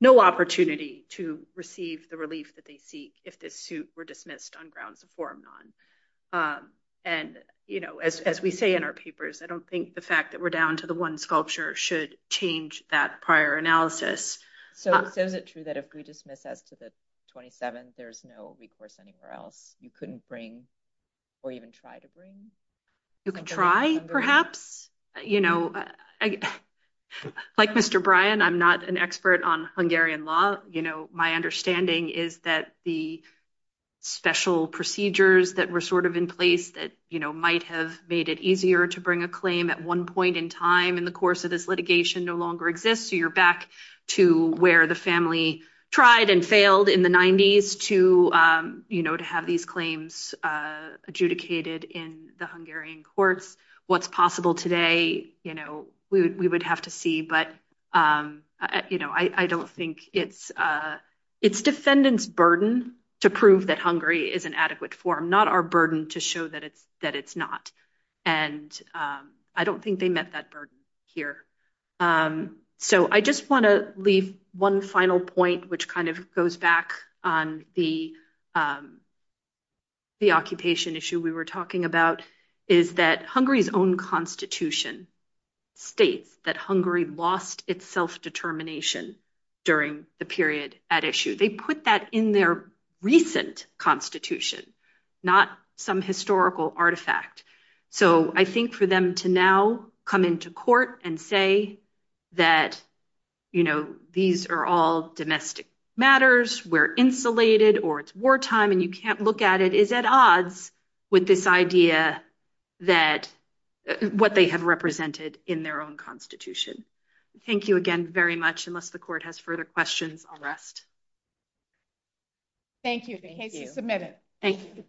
no opportunity to receive the relief that they seek if the suit were dismissed on grounds of forum non. And as we say in our papers, I don't think the fact that we're down to the one should change that prior analysis. So, isn't it true that if we dismiss that to the 27, there's no recourse anywhere else? You couldn't bring or even try to bring? You can try, perhaps. Like Mr. Bryan, I'm not an expert on Hungarian law. My understanding is that the special procedures that were sort of in place that might have made it easier to bring a claim at one point in time in the course of this litigation no longer exists. So, you're back to where the family tried and failed in the 90s to have these claims adjudicated in the Hungarian courts. What's possible today, we would have to see. But I don't think it's defendant's burden to prove that Hungary is an adequate forum, not our burden to show that it's not. And I don't think they met that burden here. So, I just want to leave one final point, which kind of goes back on the occupation issue we were talking about, is that Hungary's own constitution states that Hungary lost its self-determination during the period at issue. They put that in their recent constitution, not some historical artifact. So, I think for them to now come into court and say that these are all domestic matters, we're insulated, or it's wartime and you can't look at it, is at odds with this idea that what they have represented in their own constitution. Thank you again very much. Unless the court has further questions, I'll rest. Thank you. Thank you. Submit it. Thank you.